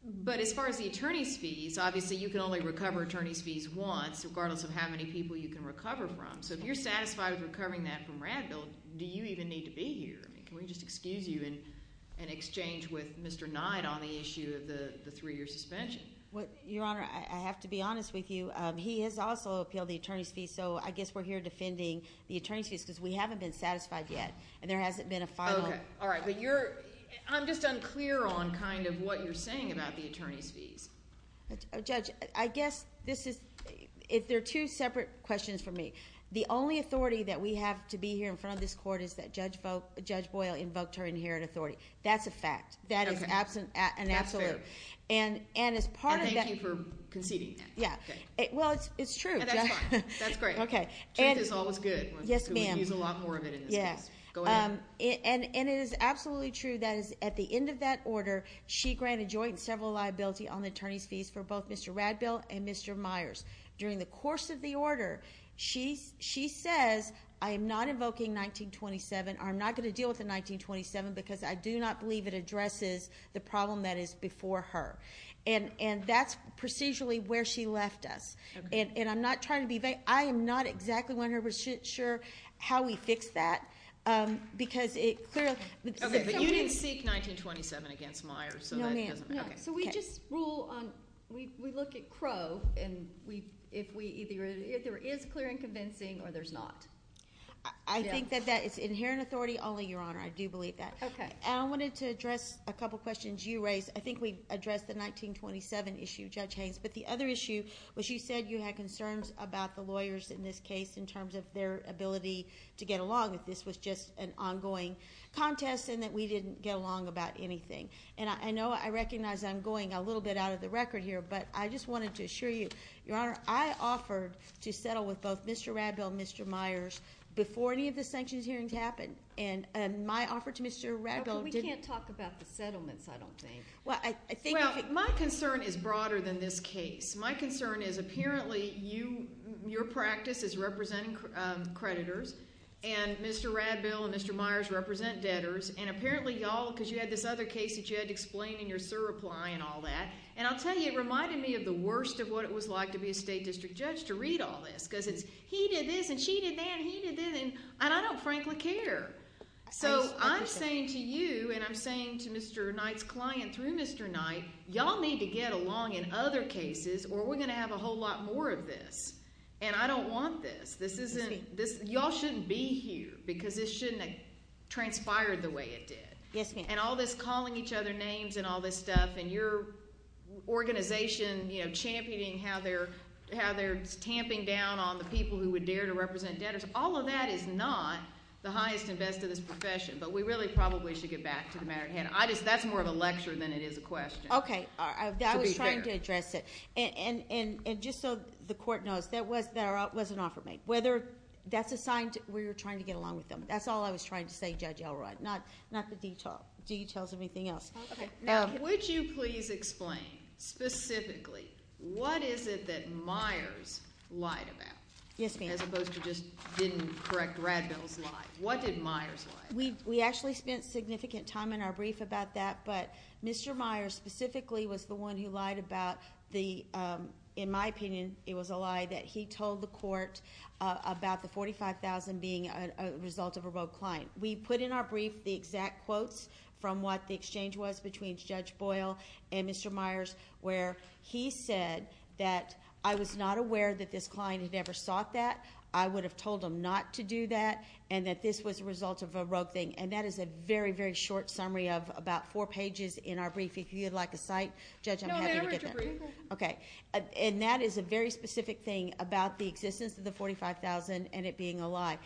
But as far as the attorney's fees, obviously you can only recover attorney's fees once, regardless of how many people you can recover from. So if you're satisfied with recovering that from Radville, do you even need to be here? I mean, can we just excuse you in exchange with Mr. Nye on the issue of the three-year suspension? Well, Your Honor, I have to be honest with you. He has also appealed the attorney's fees, so I guess we're here defending the attorney's fees because we haven't been satisfied yet. And there hasn't been a filing. Okay. All right. But I'm just unclear on kind of what you're saying about the attorney's fees. Judge, I guess this is – there are two separate questions for me. The only authority that we have to be here in front of this Court is that Judge Boyle invoked her inherent authority. That's a fact. That is an absolute. That's fair. And as part of that – I thank you for conceding. Yeah. Well, it's true. That's great. Okay. Chance is always good. Yes, ma'am. We use it a lot more than it is. Yeah. Go ahead. And it is absolutely true that at the end of that order, she granted joint and several liability on the attorney's fees for both Mr. Radbill and Mr. Myers. During the course of the order, she says, I am not invoking 1927. I'm not going to deal with the 1927 because I do not believe it addresses the problem that is before her. And that's procedurally where she left us. And I'm not trying to be – I am not exactly 100% sure how we fix that because it clearly – Okay. But you didn't speak 1927 against Myers. No, ma'am. Okay. So we just rule on – we look at Crow and if there is clear and convincing or there's not. I think that that is inherent authority only, Your Honor. I do believe that. Okay. I wanted to address a couple questions you raised. I think we addressed the 1927 issue, Judge Haynes. But the other issue was you said you had concerns about the lawyers in this case in terms of their ability to get along if this was just an ongoing contest and that we didn't get along about anything. And I know I recognize I'm going a little bit out of the record here, but I just wanted to assure you, Your Honor, I offered to settle with both Mr. Radbill and Mr. Myers before any of the sanctions hearings happened. And my offer to Mr. Radbill – But we can't talk about the settlements, I don't think. Well, my concern is broader than this case. My concern is apparently your practice is representing creditors, and Mr. Radbill and Mr. Myers represent debtors, and apparently y'all, because you had this other case that you had to explain in your surreply and all that. And I'll tell you, it reminded me of the worst of what it was like to be a state district judge to read all this because it's he did this and she did that and he did this, and I don't frankly care. So I'm saying to you and I'm saying to Mr. Knight's client through Mr. Knight, y'all need to get along in other cases or we're going to have a whole lot more of this, and I don't want this. This isn't – y'all shouldn't be here because this shouldn't have transpired the way it did. Yes, ma'am. And all this calling each other names and all this stuff and your organization, you know, championing how they're camping down on the people who would dare to represent debtors, all of that is not the highest and best of this profession, but we really probably should get back to the matter at hand. That's more of a lecture than it is a question. Okay. To be fair. I was trying to address it. And just so the Court knows, that was an offer made. Whether – that's a sign that we were trying to get along with them. That's all I was trying to say, Judge Elroy, not the details of anything else. Okay. Yes, ma'am. We actually spent significant time in our brief about that, but Mr. Myers specifically was the one who lied about the – in my opinion, it was a lie that he told the Court about the $45,000 being a result of a rogue client. We put in our brief the exact quotes from what the exchange was between Judge Boyle and Mr. Myers, where he said that I was not aware that this client had ever sought that, I would have told them not to do that, and that this was the result of a rogue thing. And that is a very, very short summary of about four pages in our brief. If you would like to cite, Judge, I'm happy to get it. No, never. Okay. And that is a very specific thing about the existence of the $45,000 and it being a lie.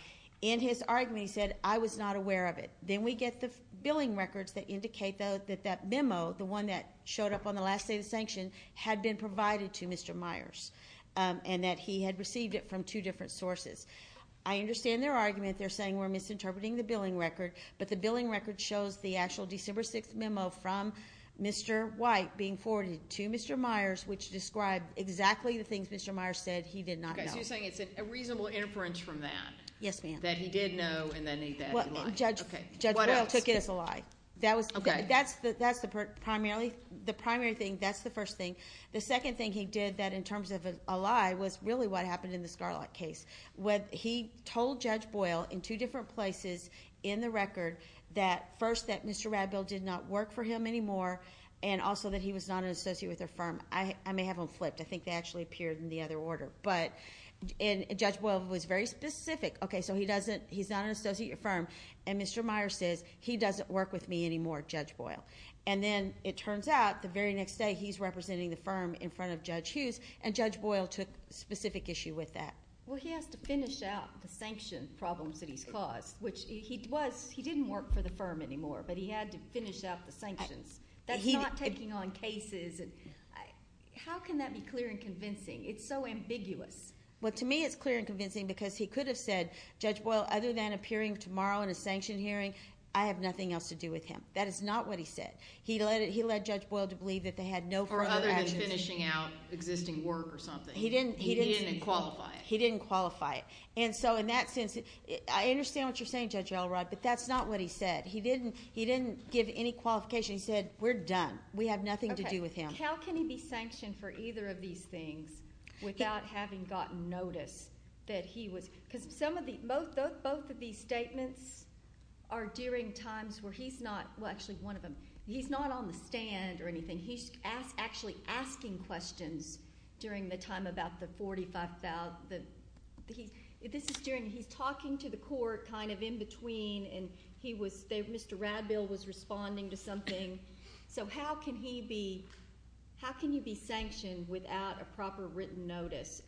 In his argument, he said, I was not aware of it. Then we get the billing records that indicate that that memo, the one that showed up on the last day of sanctions, had been provided to Mr. Myers and that he had received it from two different sources. I understand their argument. They're saying we're misinterpreting the billing record, but the billing record shows the actual December 6th memo from Mr. White being forwarded to Mr. Myers, which described exactly the things Mr. Myers said he did not know. But you're saying it's a reasonable inference from that? Yes, ma'am. That he did know and then he did not. Well, Judge Boyle took it as a lie. Okay. That's the primary thing. That's the first thing. The second thing he did that in terms of a lie was really what happened in the Starlock case. He told Judge Boyle in two different places in the record that, first, that Mr. Radbill did not work for him anymore and also that he was not an associate with their firm. I may have them flipped. I think they actually appeared in the other order. But Judge Boyle was very specific. Okay, so he's not an associate at your firm, and Mr. Myers said, he doesn't work with me anymore, Judge Boyle. And then it turns out the very next day he's representing the firm in front of Judge Hughes, and Judge Boyle took a specific issue with that. Well, he had to finish out the sanctions problems that he caused, which he was. He didn't work for the firm anymore, but he had to finish out the sanctions. That's not taking on cases. How can that be clear and convincing? It's so ambiguous. Well, to me it's clear and convincing because he could have said, Judge Boyle, other than appearing tomorrow in a sanction hearing, I have nothing else to do with him. That is not what he said. He led Judge Boyle to believe that they had no further action. Or other than finishing out existing work or something. He didn't qualify it. He didn't qualify it. And so in that sense, I understand what you're saying, Judge Elrod, but that's not what he said. He didn't give any qualification. He said, we're done. We have nothing to do with him. How can he be sanctioned for either of these things without having gotten notice? Because both of these statements are during times where he's not on the stand or anything. He's actually asking questions during the time about the $45,000. He's talking to the court kind of in between, and Mr. Radbill was responding to something. So how can he be sanctioned without a proper written notice?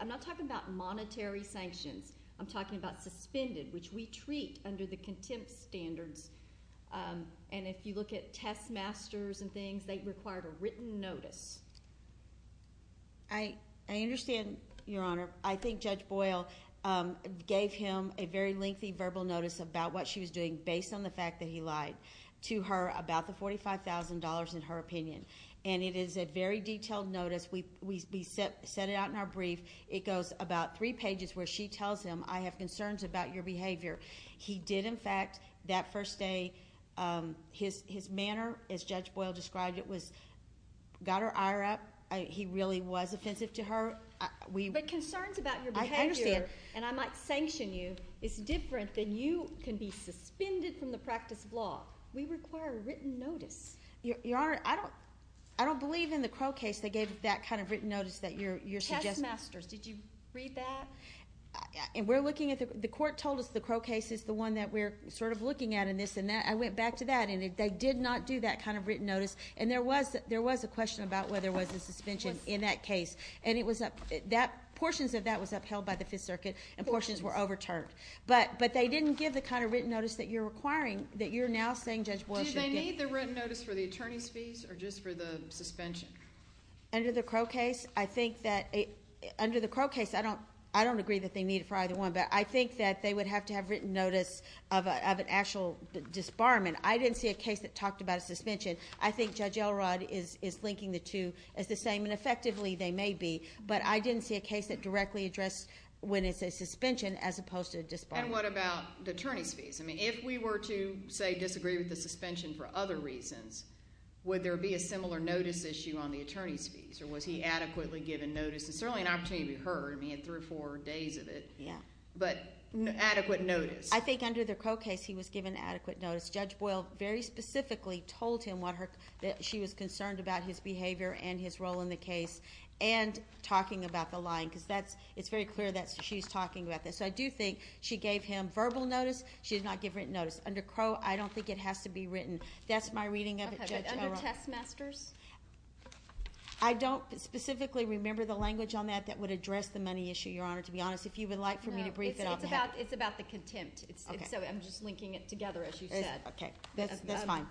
I'm not talking about monetary sanctions. I'm talking about suspended, which we treat under the contempt standards. And if you look at test masters and things, they require a written notice. I understand, Your Honor. I think Judge Boyle gave him a very lengthy verbal notice about what she was doing based on the fact that he lied to her about the $45,000 in her opinion. And it is a very detailed notice. We set it out in our brief. It goes about three pages where she tells him, I have concerns about your behavior. He did, in fact, that first day, his manner, as Judge Boyle described it, got her ire up. He really was offensive to her. But concerns about your behavior, and I might sanction you, is different than you can be suspended from the practice of law. We require a written notice. Your Honor, I don't believe in the Crow case they gave that kind of written notice that you're suggesting. Test masters, did you read that? We're looking at the court told us the Crow case is the one that we're sort of looking at in this. And I went back to that, and they did not do that kind of written notice. And there was a question about whether there was a suspension in that case. And portions of that was upheld by the Fifth Circuit, and portions were overturned. But they didn't give the kind of written notice that you're requiring, that you're now saying Judge Boyle should get. Did they need the written notice for the attorney's fees or just for the suspension? Under the Crow case, I think that under the Crow case, I don't agree that they need it for either one, but I think that they would have to have written notice of an actual disbarment. I didn't see a case that talked about a suspension. I think Judge Elrod is linking the two as the same, and effectively they may be. But I didn't see a case that directly addressed when it's a suspension as opposed to a disbarment. And what about the attorney's fees? I mean, if we were to, say, disagree with the suspension for other reasons, would there be a similar notice issue on the attorney's fees? Or was he adequately given notice? It's certainly an opportunity to be heard. I mean, he had three or four days of it. Yeah. But adequate notice. I think under the Crow case, he was given adequate notice. Judge Boyle very specifically told him that she was concerned about his behavior and his role in the case. And talking about the line, because it's very clear that she's talking about this. So I do think she gave him verbal notice. She did not give written notice. Under Crow, I don't think it has to be written. That's my reading of it, Judge Elrod. Okay. Under textmasters? I don't specifically remember the language on that that would address the money issue, Your Honor, to be honest. If you would like for me to brief it on that. No, it's about the contempt. Okay. So I'm just linking it together, as you said. Okay. That's fine.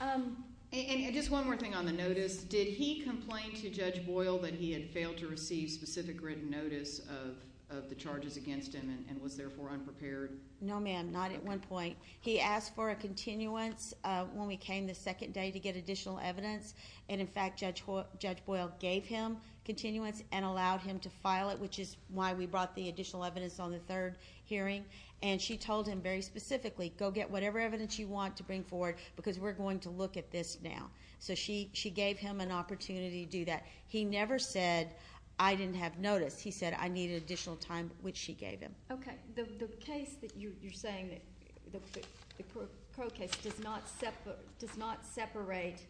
And just one more thing on the notice. Did he complain to Judge Boyle that he had failed to receive specific written notice of the charges against him and was therefore unprepared? No, ma'am. Not at one point. He asked for a continuance when we came the second day to get additional evidence. And, in fact, Judge Boyle gave him continuance and allowed him to file it, which is why we brought the additional evidence on the third hearing. And she told him very specifically, go get whatever evidence you want to bring forward because we're going to look at this now. So she gave him an opportunity to do that. He never said, I didn't have notice. He said, I need additional time, which she gave him. Okay. The case that you're saying, the pro case, does not separate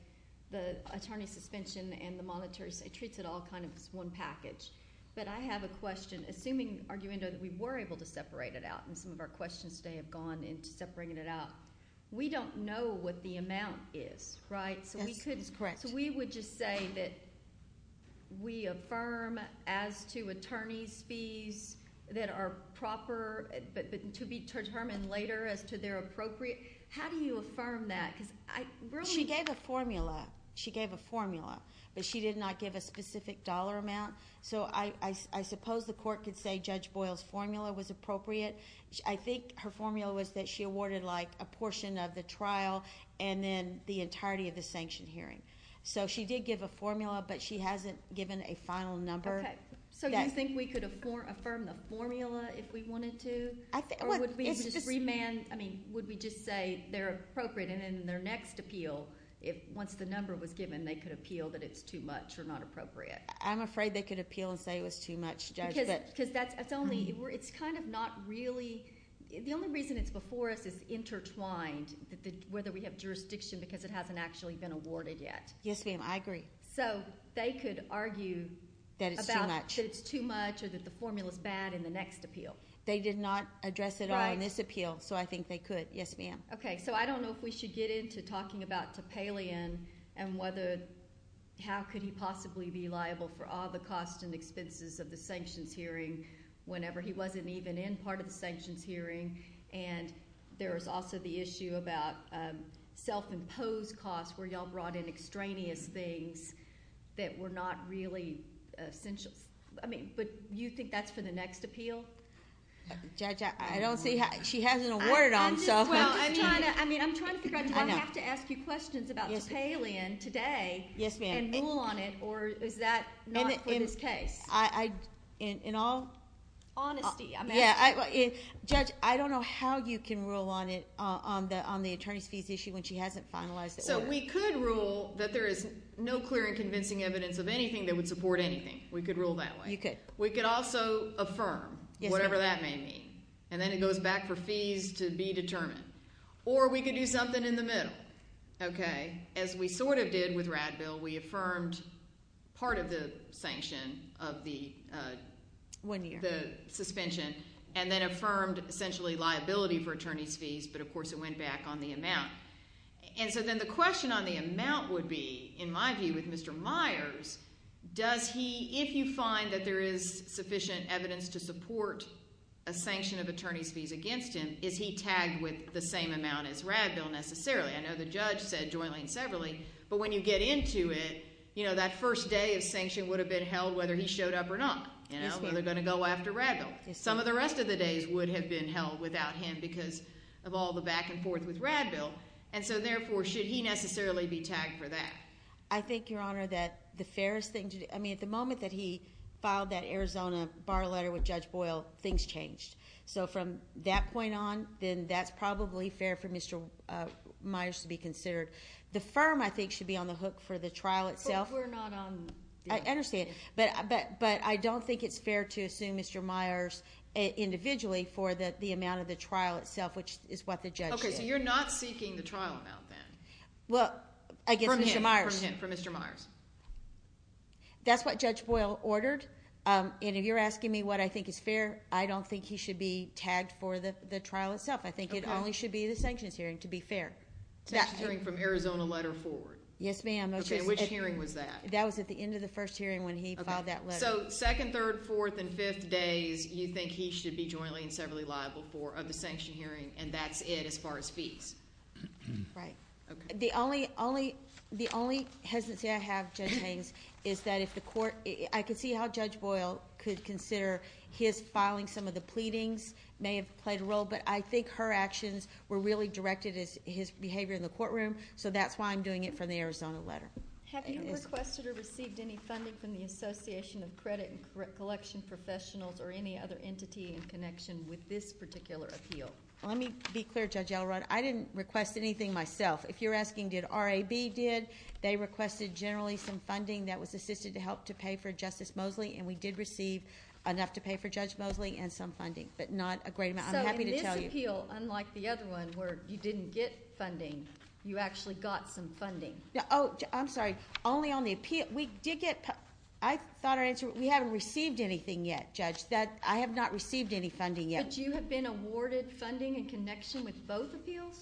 the attorney's suspension and the monitor's. It treats it all kind of as one package. But I have a question. Assuming, arguing that we were able to separate it out and some of our questions may have gone into separating it out, we don't know what the amount is. Right. We would just say that we affirm as to attorney's fees that are proper but to be determined later as to their appropriate. How do you affirm that? She gave a formula. She gave a formula. But she did not give a specific dollar amount. So I suppose the court could say Judge Boyle's formula was appropriate. I think her formula was that she awarded like a portion of the trial and then the entirety of the sanction hearing. So she did give a formula, but she hasn't given a final number. Okay. So you think we could affirm the formula if we wanted to? Or would we just say they're appropriate and in their next appeal, once the number was given, they could appeal that it's too much or not appropriate? I'm afraid they could appeal and say it was too much, Judge. It's kind of not really – the only reason it's before us is intertwined, whether we have jurisdiction because it hasn't actually been awarded yet. Yes, ma'am. I agree. So they could argue that it's too much or that the formula is bad in the next appeal. They did not address it in this appeal, so I think they could. Yes, ma'am. Okay. So I don't know if we should get into talking about Topalian and how could he possibly be liable for all the costs and expenses of the sanctions hearing whenever he wasn't even in part of the sanctions hearing. And there's also the issue about self-imposed costs where y'all brought in extraneous things that were not really essential. I mean, but you think that's in the next appeal? Judge, I don't see – she hasn't awarded on something. Well, I mean, I'm trying to – I'm going to have to ask you questions about Topalian today. Yes, ma'am. And rule on it or is that not for this case? In all – Honesty. Yeah. Judge, I don't know how you can rule on it on the attorney's fees issue when she hasn't finalized it yet. So we could rule that there is no clear and convincing evidence of anything that would support anything. We could rule that way. You could. We could also affirm whatever that may mean. And then it goes back for fees to be determined. Or we could do something in the middle. Okay. As we sort of did with Radville, we affirmed part of the sanction of the suspension and then affirmed essentially liability for attorney's fees. But, of course, it went back on the amount. And so then the question on the amount would be, in my view, with Mr. Myers, does he – if you find that there is sufficient evidence to support a sanction of attorney's fees against him, is he tagged with the same amount as Radville necessarily? I know the judge said Joylene Severly, but when you get into it, that first day of sanction would have been held whether he showed up or not. Okay. And I'm never going to go after Radville. Some of the rest of the days would have been held without him because of all the back and forth with Radville. And so, therefore, should he necessarily be tagged for that? I think, Your Honor, that the fairest thing – I mean, at the moment that he filed that Arizona bar letter with Judge Boyle, things changed. So from that point on, then that's probably fair for Mr. Myers to be considered. The firm, I think, should be on the hook for the trial itself. But we're not on – I understand. But I don't think it's fair to assume Mr. Myers individually for the amount of the trial itself, which is what the judge did. Okay. So you're not seeking the trial about that? Well, I guess Mr. Myers – From him, from him, from Mr. Myers. That's what Judge Boyle ordered. And if you're asking me what I think is fair, I don't think he should be tagged for the trial itself. I think it only should be the sanctions hearing, to be fair. Sanctions hearing from Arizona letter forward. Yes, ma'am. Okay. Which hearing was that? That was at the end of the first hearing when he filed that letter. So second, third, fourth, and fifth days, you think he should be jointly and severally liable for a sanction hearing, and that's it as far as fees? Right. The only hesitancy I have, Judge Haynes, is that if the court – I could see how Judge Boyle could consider his filing some of the pleadings may have played a role. But I think her actions were really directed at his behavior in the courtroom. So that's why I'm doing it from the Arizona letter. Have you requested or received any funding from the Association of Credit Collection Professionals or any other entity in connection with this particular appeal? Let me be clear, Judge Elrod. I didn't request anything myself. If you're asking did RAB did, they requested generally some funding that was assisted to help to pay for Justice Mosley, and we did receive enough to pay for Judge Mosley and some funding, but not a great amount. I'm happy to tell you. So in this appeal, unlike the other one where you didn't get funding, you actually got some funding? Oh, I'm sorry. Only on the appeal. We did get – I thought our answer – we haven't received anything yet, Judge. I have not received any funding yet. But you have been awarded funding in connection with both appeals?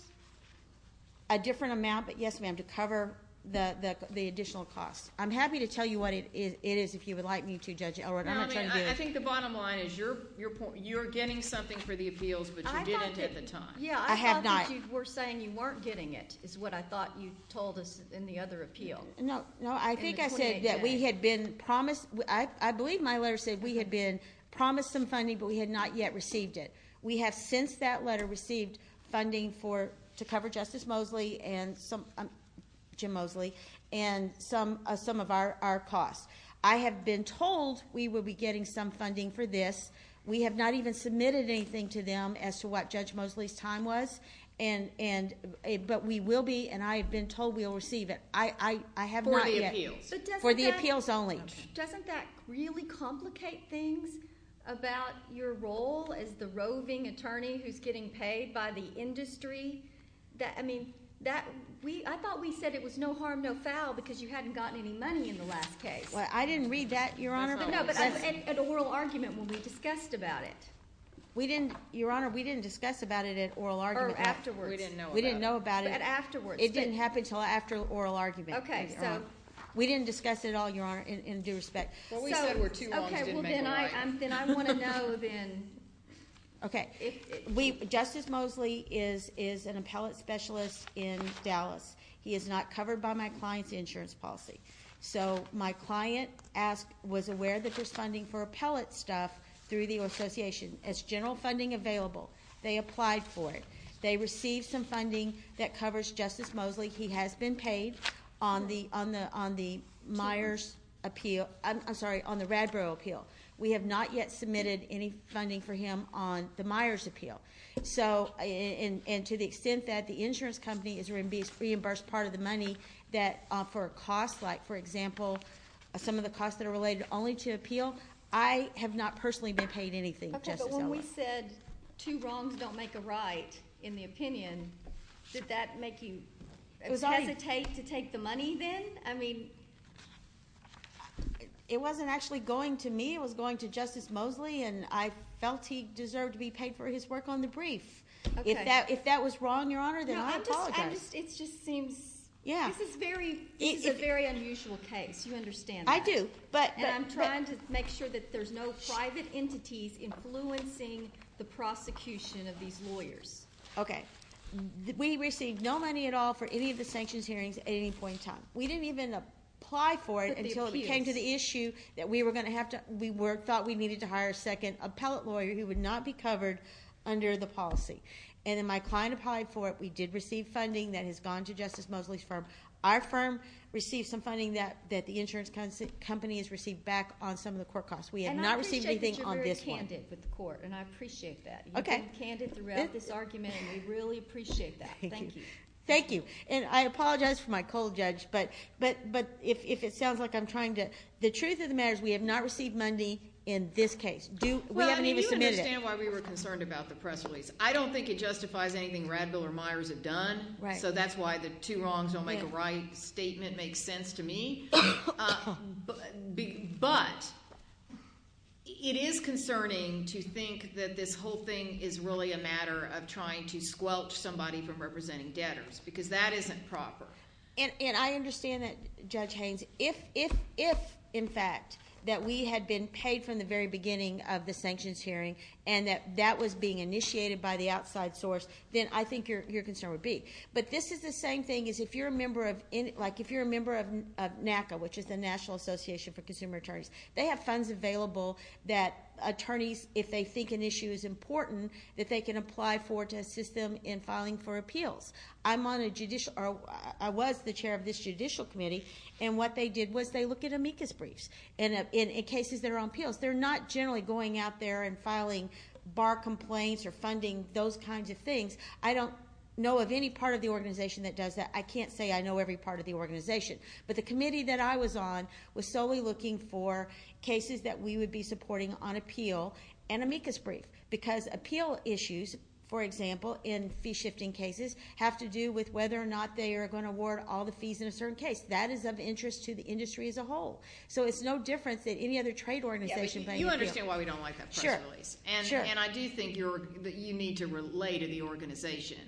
A different amount, but yes, ma'am, to cover the additional cost. I'm happy to tell you what it is if you would like me to, Judge Elrod. I think the bottom line is you're getting something for the appeals, but you didn't at the time. I have not. I thought you were saying you weren't getting it is what I thought you told us in the other appeal. No, I think I said that we had been promised – I believe my letter said we had been promised some funding, but we had not yet received it. We have since that letter received funding to cover Justice Mosley and – Jim Mosley – and some of our costs. I have been told we will be getting some funding for this. We have not even submitted anything to them as to what Judge Mosley's time was, but we will be – and I have been told we will receive it. I have not yet. For the appeals? For the appeals only. Doesn't that really complicate things about your role as the roving attorney who's getting paid by the industry? I mean, that – I thought we said it was no harm, no foul because you hadn't gotten any money in the last case. I didn't read that, Your Honor. No, but at oral argument when we discussed about it. We didn't – Your Honor, we didn't discuss about it at oral argument. Or afterwards. We didn't know about it. But afterwards. It didn't happen until after oral argument. Okay, so. We didn't discuss it at all, Your Honor, in due respect. Well, we thought we were too long. Okay, well, then I want to know then. Okay. Justice Mosley is an appellate specialist in Dallas. He is not covered by my client's insurance policy. So my client asked – was aware that there's funding for appellate staff through the association. Is general funding available? They applied for it. They received some funding that covers Justice Mosley. He has been paid on the Myers appeal – I'm sorry, on the Radborough appeal. We have not yet submitted any funding for him on the Myers appeal. So – and to the extent that the insurance company is going to reimburse part of the money that offer costs, like, for example, some of the costs that are related only to appeal, I have not personally been paid anything, Justice Mosley. Okay, but when we said two wrongs don't make a right in the opinion, should that make you hesitate to take the money then? It wasn't actually going to me. It was going to Justice Mosley, and I felt he deserved to be paid for his work on the brief. If that was wrong, Your Honor, then I apologize. It just seems – this is a very unusual case. You understand that. I do. But I'm trying to make sure that there's no private entities influencing the prosecution of these lawyers. Okay. We didn't even apply for it until it came to the issue that we were going to have to – we thought we needed to hire a second appellate lawyer who would not be covered under the policy. And in my client applied for it, we did receive funding that has gone to Justice Mosley's firm. Our firm received some funding that the insurance company has received back on some of the court costs. We have not received anything on this one. And I appreciate that you're very candid with the court, and I appreciate that. Okay. You've been candid throughout this argument, and we really appreciate that. Thank you. Thank you. And I apologize for my cold judge, but if it sounds like I'm trying to – the truth of the matter is we have not received money in this case. Well, I think you understand why we were concerned about the press release. I don't think it justifies anything Radville or Myers have done. Right. So that's why the two wrongs don't make a right statement makes sense to me. But it is concerning to think that this whole thing is really a matter of trying to squelch somebody from representing debtors, because that isn't proper. And I understand that, Judge Haynes, if, in fact, that we had been paid from the very beginning of the sanctions hearing and that that was being initiated by the outside source, then I think your concern would be. But this is the same thing as if you're a member of – like if you're a member of NACA, which is the National Association for Consumer Attorneys, they have funds available that attorneys, if they think an issue is important, that they can apply for to assist them in filing for appeals. I'm on a judicial – or I was the chair of this judicial committee, and what they did was they looked at amicus briefs in cases that are on appeals. They're not generally going out there and filing bar complaints or funding those kinds of things. I don't know of any part of the organization that does that. I can't say I know every part of the organization. But the committee that I was on was solely looking for cases that we would be supporting on appeal and amicus briefs, because appeal issues, for example, in fee-shifting cases, have to do with whether or not they are going to award all the fees in a certain case. That is of interest to the industry as a whole. So it's no different than any other trade organization. You understand why we don't like that. Sure. And I do think you need to relay to the organization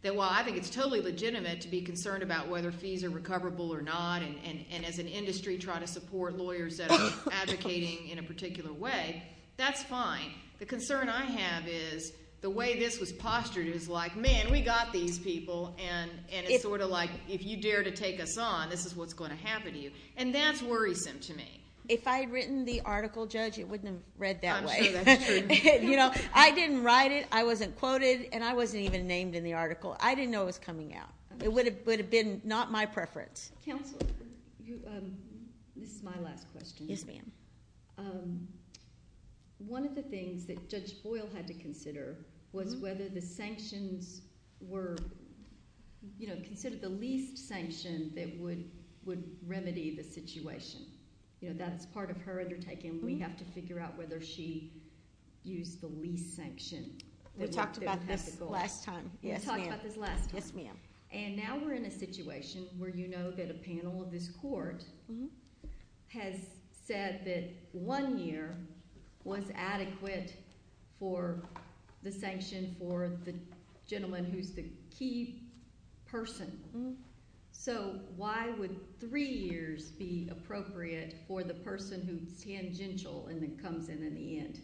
that while I think it's totally legitimate to be concerned about whether fees are recoverable or not, and as an industry try to support lawyers that are advocating in a particular way, that's fine. The concern I have is the way this was postured is like, man, we got these people, and it's sort of like, if you dare to take us on, this is what's going to happen to you. And that's worrisome to me. If I had written the article, Judge, it wouldn't have read that way. You know, I didn't write it, I wasn't quoted, and I wasn't even named in the article. I didn't know it was coming out. It would have been not my preference. Counselor, this is my last question. Yes, ma'am. One of the things that Judge Boyle had to consider was whether the sanctions were, you know, considered the least sanctions that would remedy the situation. You know, that's part of her undertaking. We have to figure out whether she used the least sanctions. We talked about this last time. Yes, ma'am. Yes, ma'am. And now we're in a situation where you know that a panel of this Court has said that one year was adequate for the sanction for the gentleman who's the key person. So why would three years be appropriate for the person who's tangential and then comes in in the end?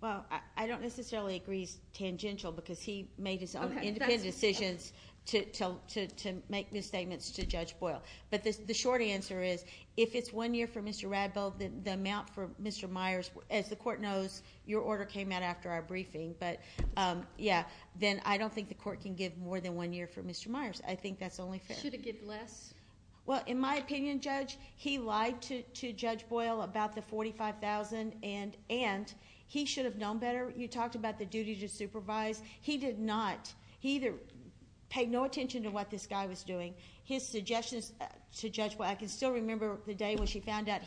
Well, I don't necessarily agree he's tangential because he made his own independent decision to make this statement to Judge Boyle. But the short answer is if it's one year for Mr. Radbill, the amount for Mr. Myers, as the Court knows, your order came out after our briefing. But yeah, then I don't think the Court can give more than one year for Mr. Myers. I think that's only fair. Should it give less? Well, in my opinion, Judge, he lied to Judge Boyle about the $45,000 and he should have known better. You talked about the duty to supervise. He did not. He paid no attention to what this guy was doing. His suggestions to Judge Boyle, I can still remember the day when she found out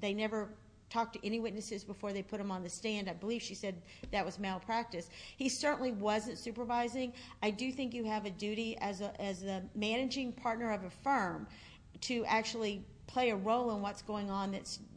they never talked to any witnesses before they put him on the stand. I believe she said that was malpractice. He certainly wasn't supervising. I do think you have a duty as a managing partner of a firm to actually play a role in what's going on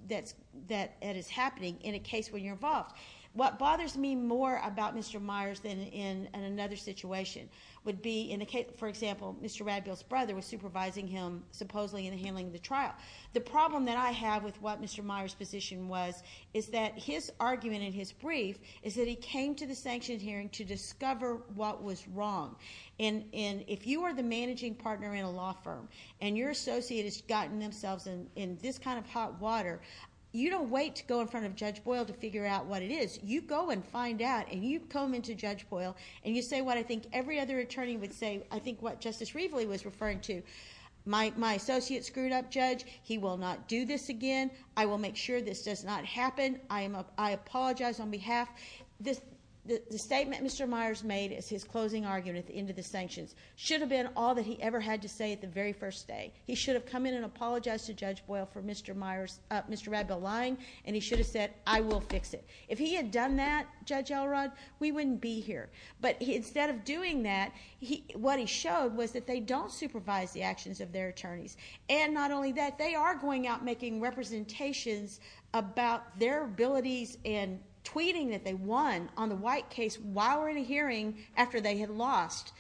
that is happening in a case where you're involved. What bothers me more about Mr. Myers than in another situation would be, for example, Mr. Radbill's brother was supervising him supposedly in handling the trial. The problem that I have with what Mr. Myers' position was is that his argument in his brief is that he came to the sanctioned hearing to discover what was wrong. And if you are the managing partner in a law firm and your associate has gotten themselves in this kind of hot water, you don't wait to go in front of Judge Boyle to figure out what it is. You go and find out and you comb into Judge Boyle and you say what I think every other attorney would say, I think what Justice Riesley was referring to. My associate screwed up, Judge. He will not do this again. I will make sure this does not happen. I apologize on behalf. The statement Mr. Myers made as his closing argument at the end of the sanctions should have been all that he ever had to say at the very first day. He should have come in and apologized to Judge Boyle for Mr. Radbill lying and he should have said I will fix it. If he had done that, Judge Elrod, we wouldn't be here. But instead of doing that, what he showed was that they don't supervise the actions of their attorneys. And not only that, they are going out making representations about their abilities and tweeting that they won on the White case while we're in a hearing after they had lost.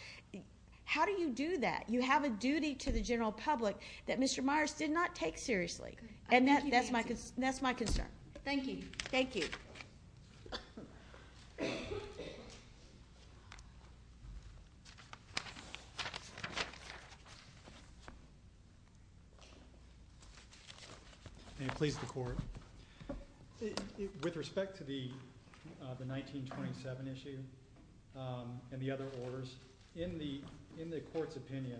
How do you do that? You have a duty to the general public that Mr. Myers did not take seriously. And that's my concern. Thank you. Thank you. Thank you. With respect to the 1927 issue and the other orders, in the court's opinion,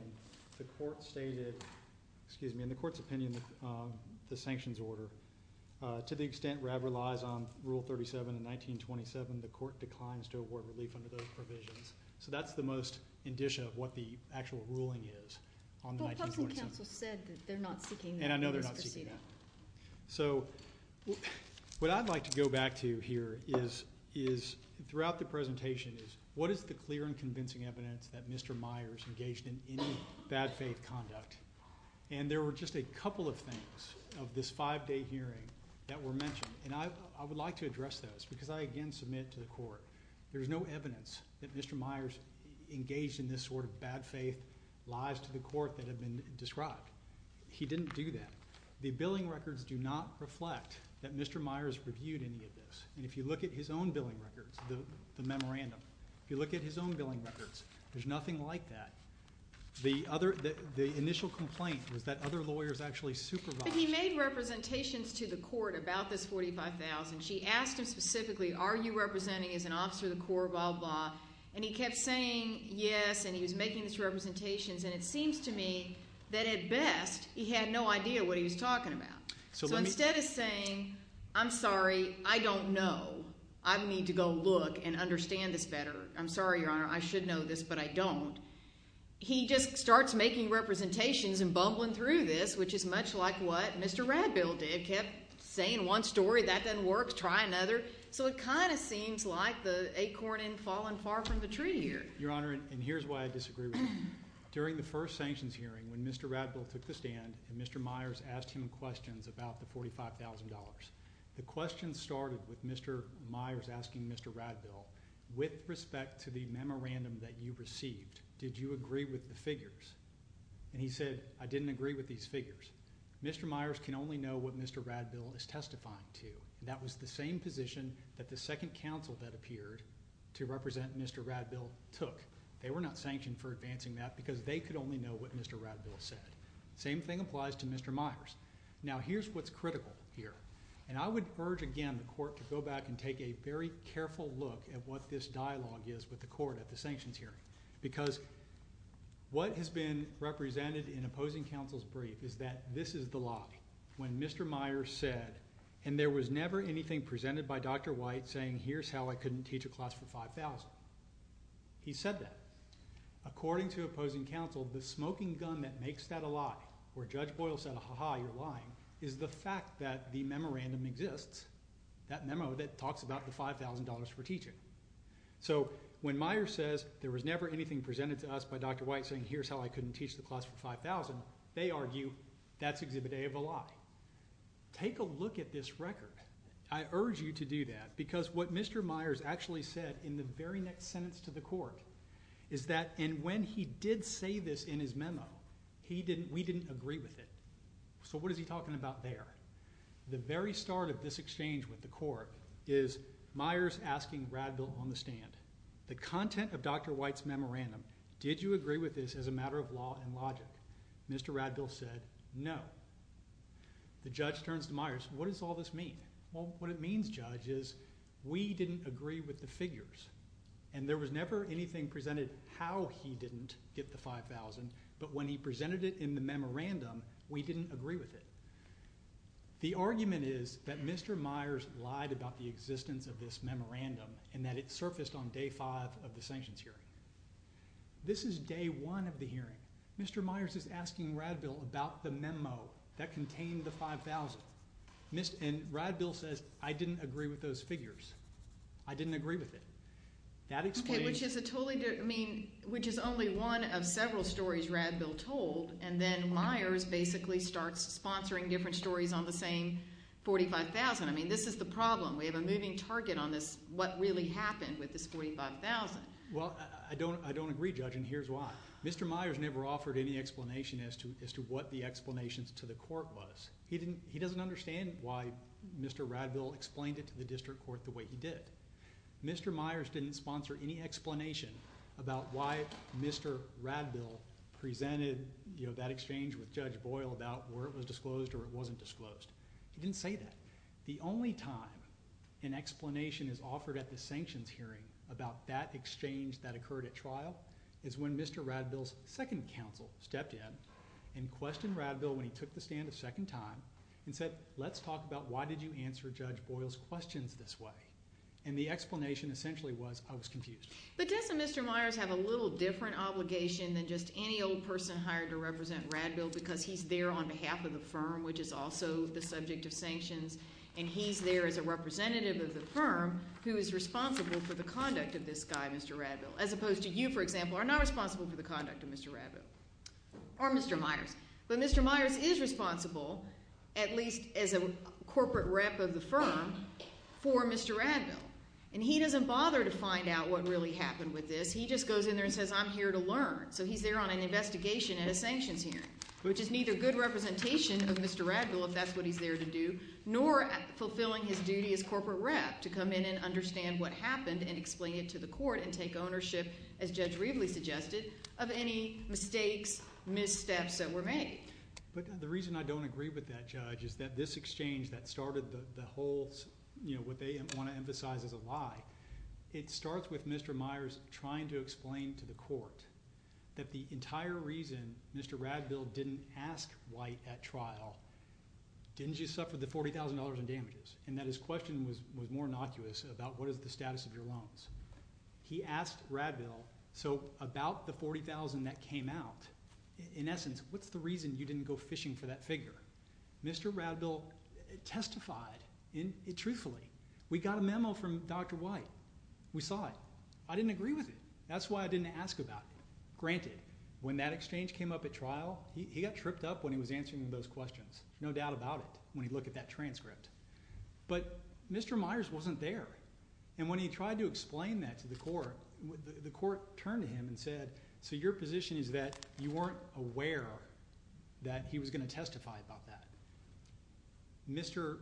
the court stated, excuse me, in the court's opinion, the sanctions order. To the extent Radbill lies on Rule 37 of 1927, the court declines to award relief under those provisions. So that's the most indicia of what the actual ruling is on 1927. Well, something counsel said is they're not sticking to the proceeding. And I know they're not sticking to it. So what I'd like to go back to here is throughout the presentation is what is the clear and convincing evidence that Mr. Myers engaged in any bad faith conduct? And there were just a couple of things of this five-day hearing that were mentioned. And I would like to address those because I again submit to the court there's no evidence that Mr. Myers engaged in this sort of bad faith lies to the court that have been described. He didn't do that. The billing records do not reflect that Mr. Myers reviewed any of this. And if you look at his own billing records, the memorandum, if you look at his own billing records, there's nothing like that. The initial complaint was that other lawyers actually supervised him. He made representations to the court about this $45,000. She asked him specifically, are you representing as an officer of the Corps, blah, blah. And he kept saying yes, and he was making these representations. And it seems to me that at best he had no idea what he was talking about. So instead of saying, I'm sorry, I don't know. I need to go look and understand this better. I'm sorry, Your Honor, I should know this, but I don't. He just starts making representations and bumbling through this, which is much like what Mr. Radbill did. Kept saying one story, that doesn't work, try another. So it kind of seems like the acorn has fallen far from the tree here. Your Honor, and here's why I disagree with this. During the first sanctions hearing when Mr. Radbill took the stand and Mr. Myers asked him questions about the $45,000, the question started with Mr. Myers asking Mr. Radbill, with respect to the memorandum that you received, did you agree with the figures? And he said, I didn't agree with these figures. Mr. Myers can only know what Mr. Radbill is testifying to. That was the same position that the second counsel that appeared to represent Mr. Radbill took. They were not sanctioned for advancing that because they could only know what Mr. Radbill said. Same thing applies to Mr. Myers. Now here's what's critical here. And I would urge again the court to go back and take a very careful look at what this dialogue is with the court at the sanctions hearing. Because what has been represented in opposing counsel's brief is that this is the lobby. When Mr. Myers said, and there was never anything presented by Dr. White saying here's how I couldn't teach a class for $5,000. He said that. According to opposing counsel, the smoking gun that makes that a lie, where Judge Boyle said, ha ha, you're lying, is the fact that the memorandum exists. That memo that talks about the $5,000 for teaching. So when Myers says there was never anything presented to us by Dr. White saying here's how I couldn't teach the class for $5,000, they argue that's exhibit A of a lie. Take a look at this record. I urge you to do that because what Mr. Myers actually said in the very next sentence to the court is that, and when he did say this in his memo, we didn't agree with it. So what is he talking about there? The very start of this exchange with the court is Myers asking Radbill on the stand, the content of Dr. White's memorandum, did you agree with this as a matter of law and logic? Mr. Radbill said no. The judge turns to Myers, what does all this mean? Well, what it means, Judge, is we didn't agree with the figures. And there was never anything presented how he didn't get the $5,000, but when he presented it in the memorandum, we didn't agree with it. The argument is that Mr. Myers lied about the existence of this memorandum and that it surfaced on day five of the sanctions hearing. This is day one of the hearing. Mr. Myers is asking Radbill about the memo that contained the $5,000. And Radbill says, I didn't agree with those figures. I didn't agree with it. Which is only one of several stories Radbill told, and then Myers basically starts sponsoring different stories on the same $45,000. I mean, this is the problem. We have a moving target on what really happened with this $45,000. Well, I don't agree, Judge, and here's why. Mr. Myers never offered any explanation as to what the explanation to the court was. He doesn't understand why Mr. Radbill explained it to the district court the way he did. Mr. Myers didn't sponsor any explanation about why Mr. Radbill presented that exchange with Judge Boyle about whether it was disclosed or it wasn't disclosed. He didn't say that. The only time an explanation is offered at the sanctions hearing about that exchange that occurred at trial is when Mr. Radbill's second counsel stepped in and questioned Radbill when he took the stand a second time and said, let's talk about why did you answer Judge Boyle's questions this way. And the explanation essentially was, I was confused. But Judge and Mr. Myers have a little different obligation than just any old person hired to represent Radbill because he's there on behalf of the firm, which is also the subject of sanctions, and he's there as a representative of the firm who is responsible for the conduct of this guy, Mr. Radbill, as opposed to you, for example, are not responsible for the conduct of Mr. Radbill or Mr. Myers. But Mr. Myers is responsible, at least as a corporate rep of the firm, for Mr. Radbill, and he doesn't bother to find out what really happened with this. He just goes in there and says, I'm here to learn. But the reason I don't agree with that, Judge, is that this exchange that started the whole, you know, what they want to emphasize as a lie, it starts with Mr. Myers trying to explain to the court that the entire reason Mr. Radbill didn't ask White at trial didn't just suffer the $40,000 in damages and that his question was more innocuous about what is the status of your loans. He asked Radbill, so about the $40,000 that came out, in essence, what's the reason you didn't go fishing for that figure? Mr. Radbill testified truthfully. We got a memo from Dr. White. We saw it. I didn't agree with it. That's why I didn't ask about it. Granted, when that exchange came up at trial, he got tripped up when he was answering those questions. No doubt about it when you look at that transcript. But Mr. Myers wasn't there. And when he tried to explain that to the court, the court turned to him and said, so your position is that you weren't aware that he was going to testify about that. Mr.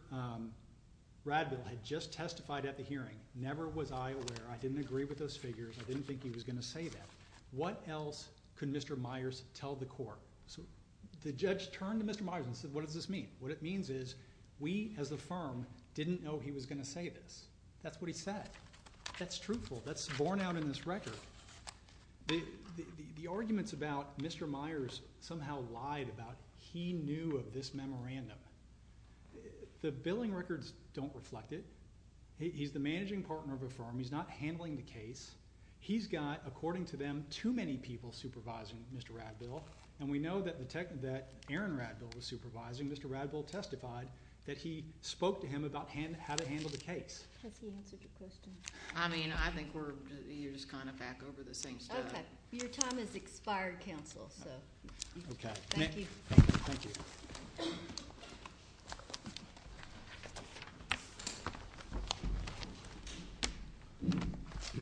Radbill had just testified at the hearing. Never was I aware. I didn't agree with those figures. I didn't think he was going to say that. What else could Mr. Myers tell the court? So the judge turned to Mr. Myers and said, what does this mean? What it means is we, as a firm, didn't know he was going to say this. That's what he said. That's truthful. That's borne out in this record. The arguments about Mr. Myers somehow lied about he knew of this memorandum. The billing records don't reflect it. He's the managing partner of a firm. He's not handling the case. He's got, according to them, too many people supervising Mr. Radbill. And we know that Aaron Radbill was supervising. Mr. Radbill testified that he spoke to him about how to handle the case. That's the answer to your question. I mean, I think you're just kind of back over the same stuff. OK. Your time has expired, counsel. OK. Thank you. Thank you. Thank you.